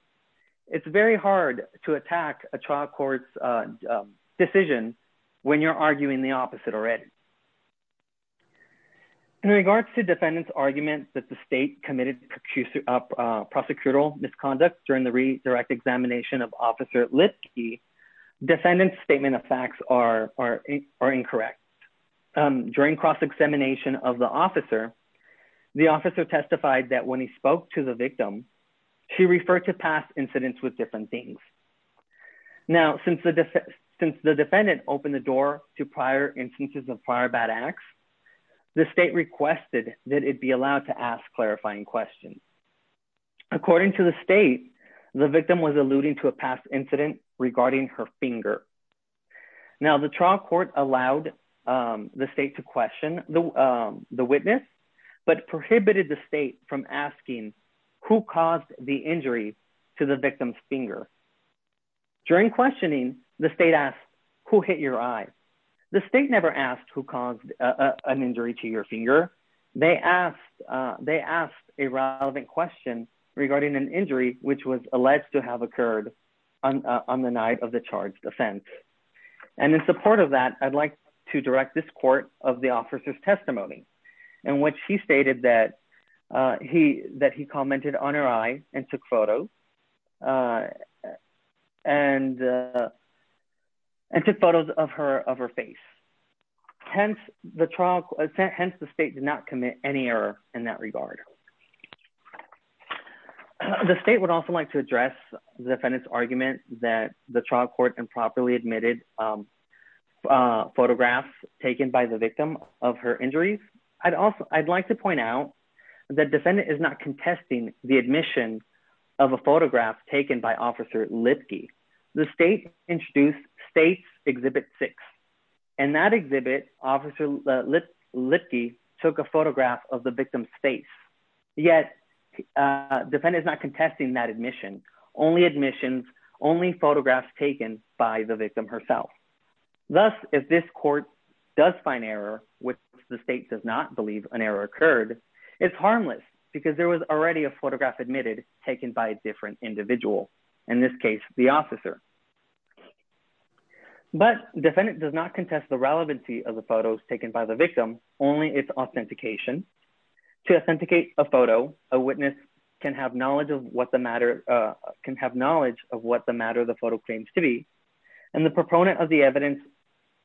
It's very hard to attack a trial court's decision. When you're arguing the opposite already. In regards to defendants argument that the state committed prosecutorial misconduct during the read direct examination of officer lit key defendants statement of facts are are incorrect. During cross examination of the officer. The officer testified that when he spoke to the victim. She referred to past incidents with different things. Now, since the defendant opened the door to prior instances of prior bad acts. The state requested that it be allowed to ask clarifying questions. According to the state, the victim was alluding to a past incident regarding her finger. Now the trial court allowed the state to question the witness, but prohibited the state from asking who caused the injury to the victim's finger. During questioning the state asked who hit your eye. The state never asked who caused an injury to your finger. They asked, they asked a relevant question regarding an injury, which was alleged to have occurred on the night of the charge defense. And in support of that, I'd like to direct this court of the officer's testimony, and what she stated that he that he commented on her I took photo. And, and took photos of her of her face. Hence, the trial, hence the state did not commit any error in that regard. The state would also like to address the defendant's argument that the trial court and properly admitted photographs, taken by the victim of her injuries. I'd also, I'd like to point out that defendant is not contesting the admission of a photograph taken by Officer Lipke. The state introduced state's exhibit six, and that exhibit Officer Lipke took a photograph of the victim's face. Yet, defendant is not contesting that admission, only admissions, only photographs taken by the victim herself. Thus, if this court does find error with the state does not believe an error occurred. It's harmless, because there was already a photograph admitted taken by different individual. In this case, the officer. But defendant does not contest the relevancy of the photos taken by the victim, only its authentication to authenticate a photo, a witness can have knowledge of what the matter can have knowledge of what the matter the photo claims to be. And the proponent of the evidence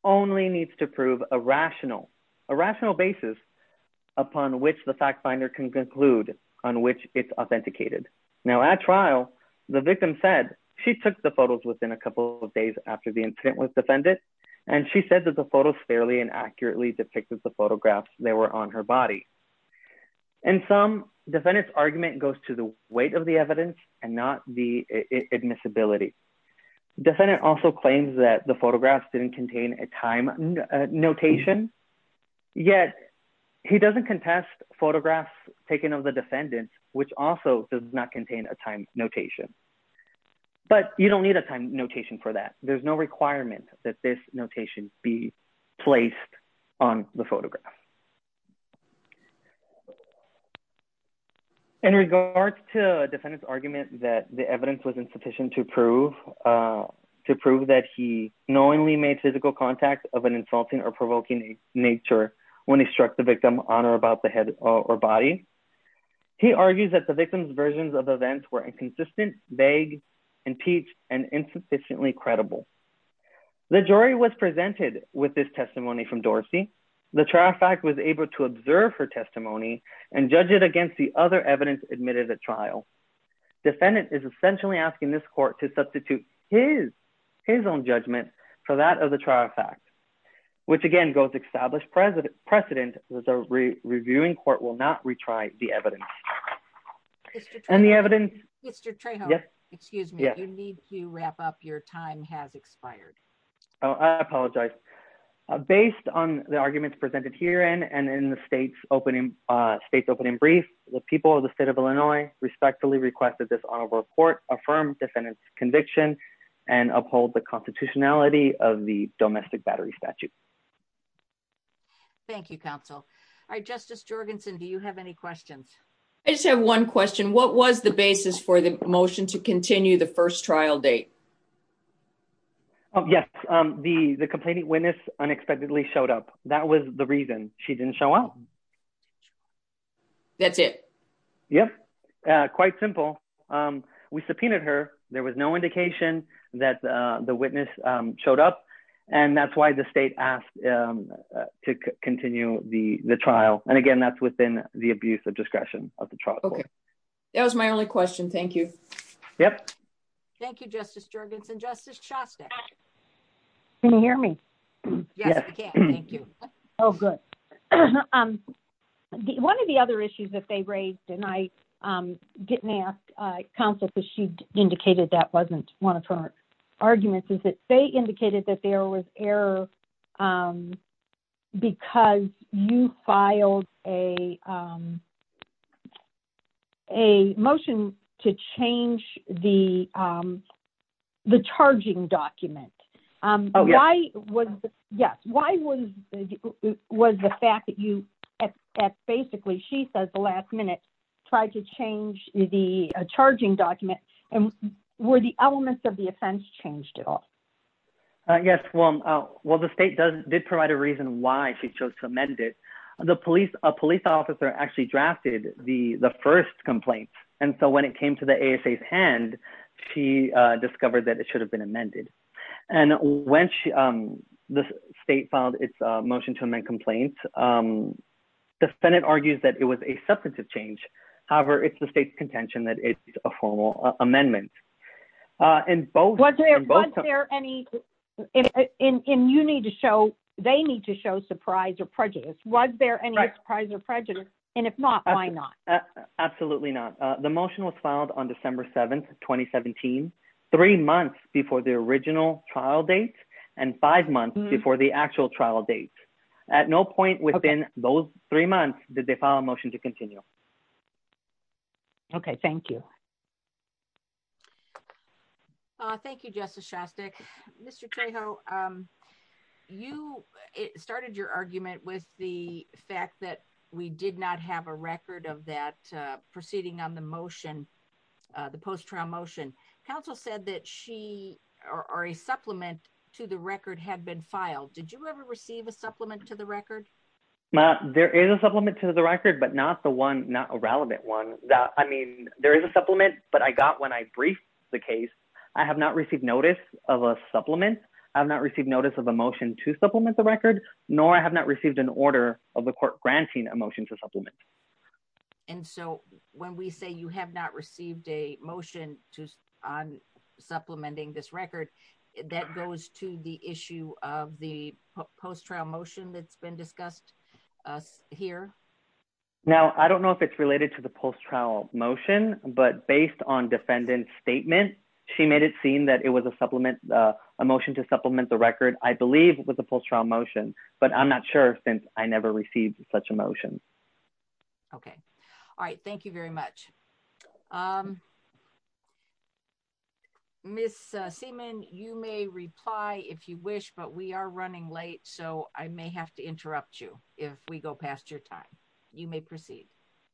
only needs to prove a rational, a rational basis, upon which the fact finder can conclude on which it's authenticated. Now at trial, the victim said she took the photos within a couple of days after the incident with defendant, and she said that the photos fairly and accurately depicted the photographs, they were on her body. And some defendants argument goes to the weight of the evidence, and not the admissibility defendant also claims that the photographs didn't contain a time notation. Yet, he doesn't contest photographs taken of the defendant, which also does not contain a time notation. But you don't need a time notation for that there's no requirement that this notation be placed on the photograph. In regards to defendants argument that the evidence was insufficient to prove to prove that he knowingly made physical contact of an insulting or provoking nature. When he struck the victim on or about the head or body. He argues that the victims versions of events were inconsistent vague impeach and insufficiently credible. The jury was presented with this testimony from Dorsey, the traffic was able to observe her testimony and judge it against the other evidence admitted at trial. Defendant is essentially asking this court to substitute his his own judgment for that of the trial fact, which again goes established President precedent was a reviewing court will not retry the evidence. And the evidence, Mr. Excuse me, you need to wrap up your time has expired. Oh, I apologize. Based on the arguments presented here and and in the state's opening state's opening brief, the people of the state of Illinois respectfully requested this on a report affirmed defendants conviction and uphold the constitutionality of the domestic battery statute. Thank you, counsel. All right, Justice Jorgensen Do you have any questions. I just have one question, what was the basis for the motion to continue the first trial date. Yes, the the complaining witness unexpectedly showed up. That was the reason she didn't show up. That's it. Yep. Quite simple. We subpoenaed her, there was no indication that the witness showed up. And that's why the state asked to continue the the trial, and again that's within the abuse of discretion of the truck. That was my only question. Thank you. Yep. Thank you, Justice Jorgensen Justice Shasta. Can you hear me. Thank you. Oh, good. One of the other issues that they raised and I didn't ask counsel because she indicated that wasn't one of her arguments is that they indicated that there was error. Because you filed a a motion to change the, the charging document. Why was, yes, why was, was the fact that you at basically she says the last minute, try to change the charging document, and where the elements of the offense changed at all. Yes, well, well the state does did provide a reason why she chose to amend it. The police, a police officer actually drafted, the, the first complaint. And so when it came to the ASA hand. She discovered that it should have been amended. And when she, the state filed its motion to amend complaints. The Senate argues that it was a substantive change. However, it's the state's contention that it's a formal amendment. And both. There any in you need to show, they need to show surprise or prejudice, was there any surprise or prejudice, and if not, why not. Absolutely not. The motion was filed on December 7 2017, three months before the original trial date, and five months before the actual trial date. At no point within those three months, did they file a motion to continue. Okay, thank you. Thank you, Justice Shastak, Mr. You started your argument with the fact that we did not have a record of that proceeding on the motion. The post trial motion council said that she are a supplement to the record had been filed. Did you ever receive a supplement to the record. There is a supplement to the record but not the one not a relevant one that I mean there is a supplement, but I got when I briefed the case. I have not received notice of a supplement. I've not received notice of emotion to supplement the record, nor I have not received an order of the court granting emotion to supplement. And so, when we say you have not received a motion to on supplementing this record that goes to the issue of the post trial motion that's been discussed here. Now, I don't know if it's related to the post trial motion, but based on defendant statement. She made it seem that it was a supplement emotion to supplement the record, I believe, with the post trial motion, but I'm not sure since I never received such emotion. Okay. All right. Thank you very much. Miss Seaman, you may reply if you wish, but we are running late so I may have to interrupt you. If we go past your time, you may proceed.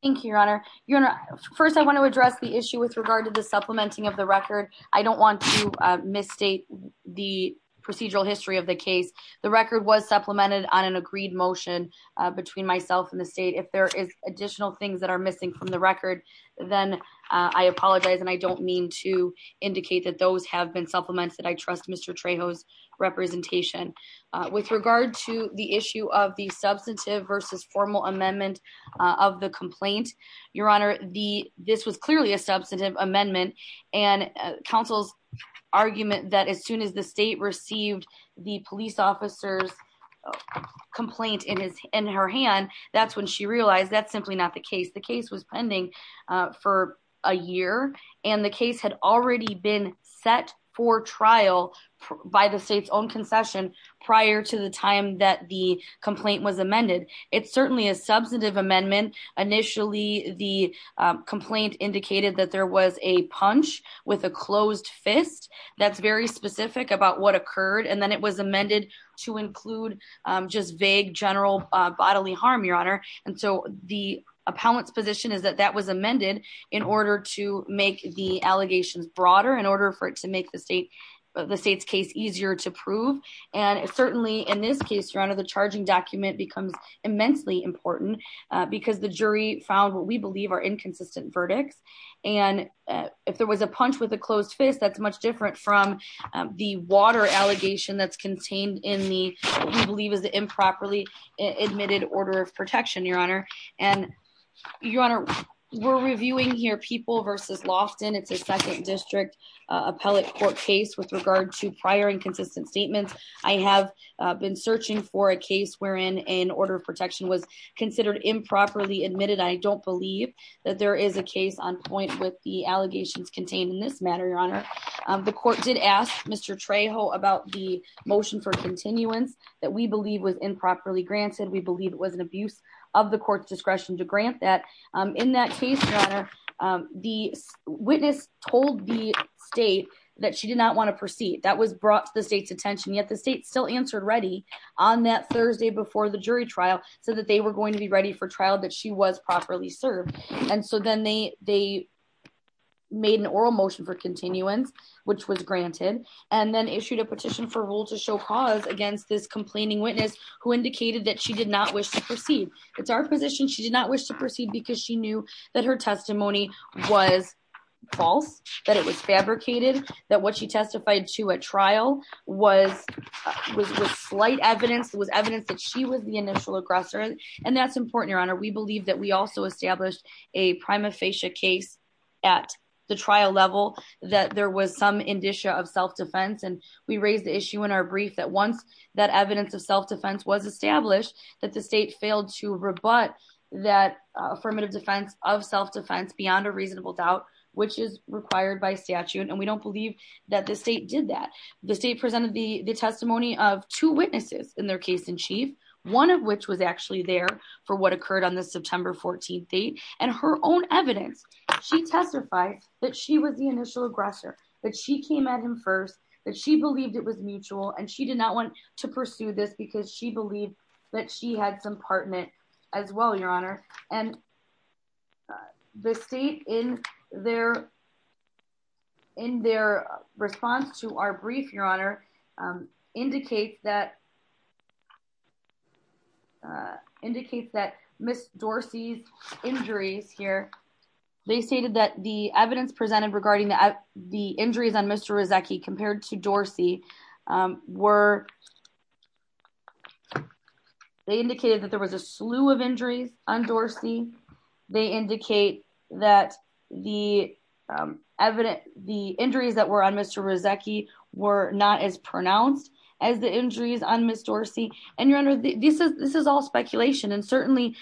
Thank you, Your Honor, Your Honor. First I want to address the issue with regard to the supplementing of the record. I don't want to misstate the procedural history of the case, the record was supplemented on an agreed motion between myself and the state if there is additional things that are missing from the record. Then, I apologize and I don't mean to indicate that those have been supplements that I trust Mr Trejo's representation. With regard to the issue of the substantive versus formal amendment of the complaint. Your Honor, the, this was clearly a substantive amendment and counsel's argument that as soon as the state received the police officers complaint in his in her hand, that's when she realized that's simply not the case the case was pending for a year, and the case had already been set for trial by the state's own concession prior to the time that the complaint was amended. It's certainly a substantive amendment. Initially, the complaint indicated that there was a punch with a closed fist. That's very specific about what occurred and then it was amended to include just vague general bodily harm, Your Honor. And so the appellant's position is that that was amended in order to make the allegations broader in order for it to make the state, the state's case easier to prove. And certainly in this case, Your Honor, the charging document becomes immensely important because the jury found what we believe are inconsistent verdicts. And if there was a punch with a closed fist that's much different from the water allegation that's contained in the, we believe is the improperly admitted order of protection, Your Honor, and you're on our, we're reviewing here people versus Lofton it's a second district appellate court case with regard to prior inconsistent statements. I have been searching for a case wherein an order of protection was considered improperly admitted I don't believe that there is a case on point with the allegations contained in this matter, Your Honor, the court did ask Mr Trejo about the motion for continuance that we believe was improperly granted we believe it was an abuse of the court's discretion to grant that in that case, Your Honor, the witness told the state that she did not want to proceed that was brought to the state's attention. But the state still answered ready on that Thursday before the jury trial, so that they were going to be ready for trial that she was properly served. And so then they, they made an oral motion for continuance, which was granted, and then issued a petition for rule to show cause against this complaining witness who indicated that she did not wish to proceed. It's our position she did not wish to proceed because she knew that her testimony was false, that it was fabricated that what she testified to a trial was was slight evidence was evidence that she was the initial aggressor. And that's important, Your Honor, we believe that we also established a prima facie case at the trial level, that there was some indicia of self defense and we raised the issue in our brief that once that evidence of self defense was established that the state failed to rebut that affirmative defense of self defense beyond a reasonable doubt, which is required by statute and we don't believe that the state did that. The state presented the testimony of two witnesses in their case in chief, one of which was actually there for what occurred on the September 14 date, and her own evidence. She testified that she was the initial aggressor that she came at him first that she believed it was mutual and she did not want to pursue this because she believed that she had some partner as well, Your Honor, and the state in their, in their response to our brief, Your Honor, indicate that Indicate that Miss Dorsey's injuries here. They stated that the evidence presented regarding the the injuries on Mr. Dorsey were They indicated that there was a slew of injuries on Dorsey. They indicate that the evidence, the injuries that were on Mr. Dorsey were not as pronounced as the injuries on Miss Dorsey and Your Honor, this is this is all speculation and certainly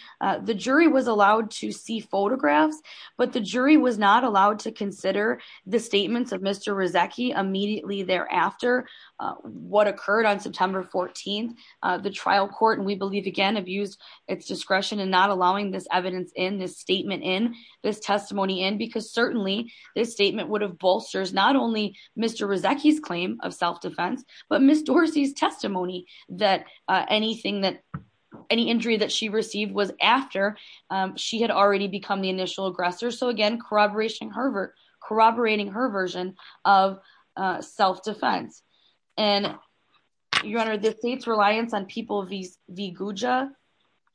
the jury was allowed to see photographs, but the jury was not allowed to consider the statements of Mr. Immediately thereafter, what occurred on September 14, the trial court and we believe again abused its discretion and not allowing this evidence in this statement in this testimony and because certainly this statement would have bolsters not only Mr. self-defense, but Miss Dorsey's testimony that anything that any injury that she received was after she had already become the initial aggressor. So again, corroboration, corroborating her version of self-defense and Your Honor, the state's reliance on people v. Guja,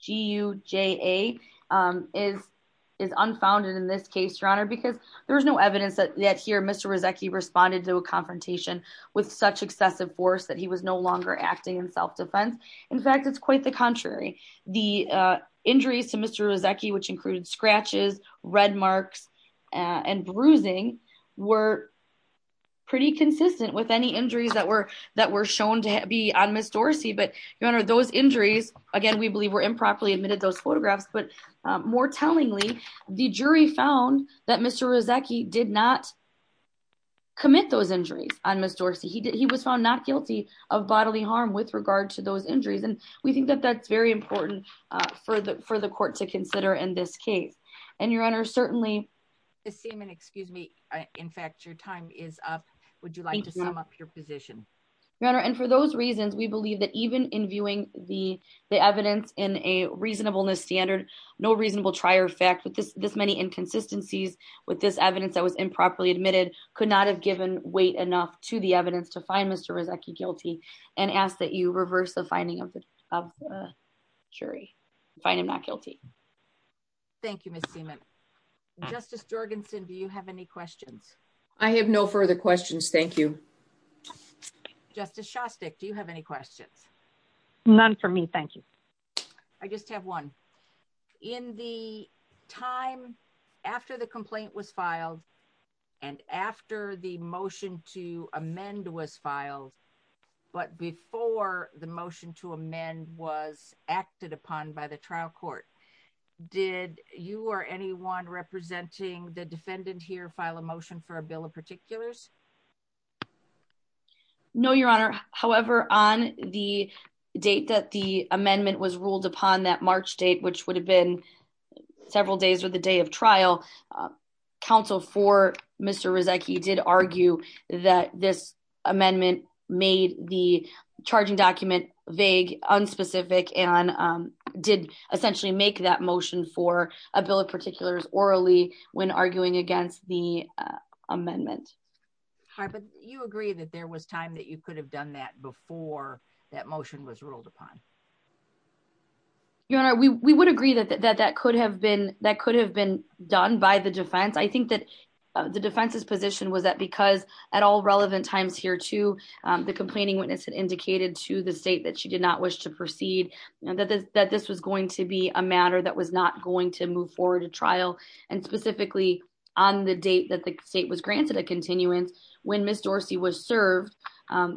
G-U-J-A, is is unfounded in this case, Your Honor, because there was no evidence that that here Mr. Rizeki responded to a confrontation with such excessive force that he was no longer acting in self-defense. In fact, it's quite the contrary. The injuries to Mr. Rizeki, which included scratches, red marks, and bruising were pretty consistent with any injuries that were that were shown to be on Miss Dorsey. But Your Honor, those injuries, again, we believe were improperly admitted those photographs, but more tellingly, the jury found that Mr. Rizeki did not commit those injuries on Miss Dorsey. He did. He was found not guilty of bodily harm with regard to those injuries. And we think that that's very important for the for the court to consider in this case. And Your Honor, certainly the same and excuse me. In fact, your time is up. Would you like to sum up your position? Your Honor. And for those reasons, we believe that even in viewing the the evidence in a reasonableness standard, no reasonable trier effect with this this many inconsistencies with this evidence that was improperly admitted could not have given weight enough to the evidence to find Mr. Rizeki guilty and ask that you reverse the finding of the jury. Find him not guilty. Thank you, Miss Seaman. Justice Jorgensen, do you have any questions? I have no further questions. Thank you. Justice Shostak, do you have any questions? None for me. Thank you. I just have one. In the time after the complaint was filed, and after the motion to amend was filed, but before the motion to amend was acted upon by the trial court. Did you or anyone representing the defendant here file a motion for a bill of particulars. No, Your Honor. However, on the date that the amendment was ruled upon that March date, which would have been several days or the day of trial. Counsel for Mr. Rizeki did argue that this amendment made the charging document vague, unspecific and did essentially make that motion for a bill of particulars orally when arguing against the amendment. Hi, but you agree that there was time that you could have done that before that motion was ruled upon. Your Honor, we would agree that that could have been done by the defense. I think that the defense's position was that because at all relevant times here too, the complaining witness had indicated to the state that she did not wish to proceed, that this was going to be a matter that was not going to move forward to trial. And specifically, on the date that the state was granted a continuance, when Ms. Dorsey was served,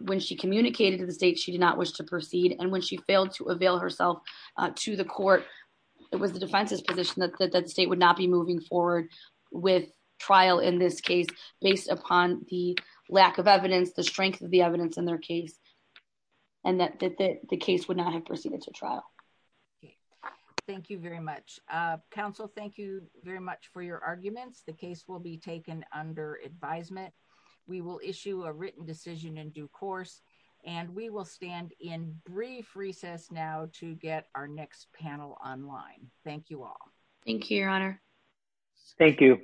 when she communicated to the state, she did not wish to proceed. And when she failed to avail herself to the court, it was the defense's position that the state would not be moving forward with trial in this case, based upon the lack of evidence, the strength of the evidence in their case, and that the case would not have proceeded to trial. Thank you very much. Counsel, thank you very much for your arguments. The case will be taken under advisement. We will issue a written decision in due course, and we will stand in brief recess now to get our next panel online. Thank you all. Thank you, Your Honor. Thank you.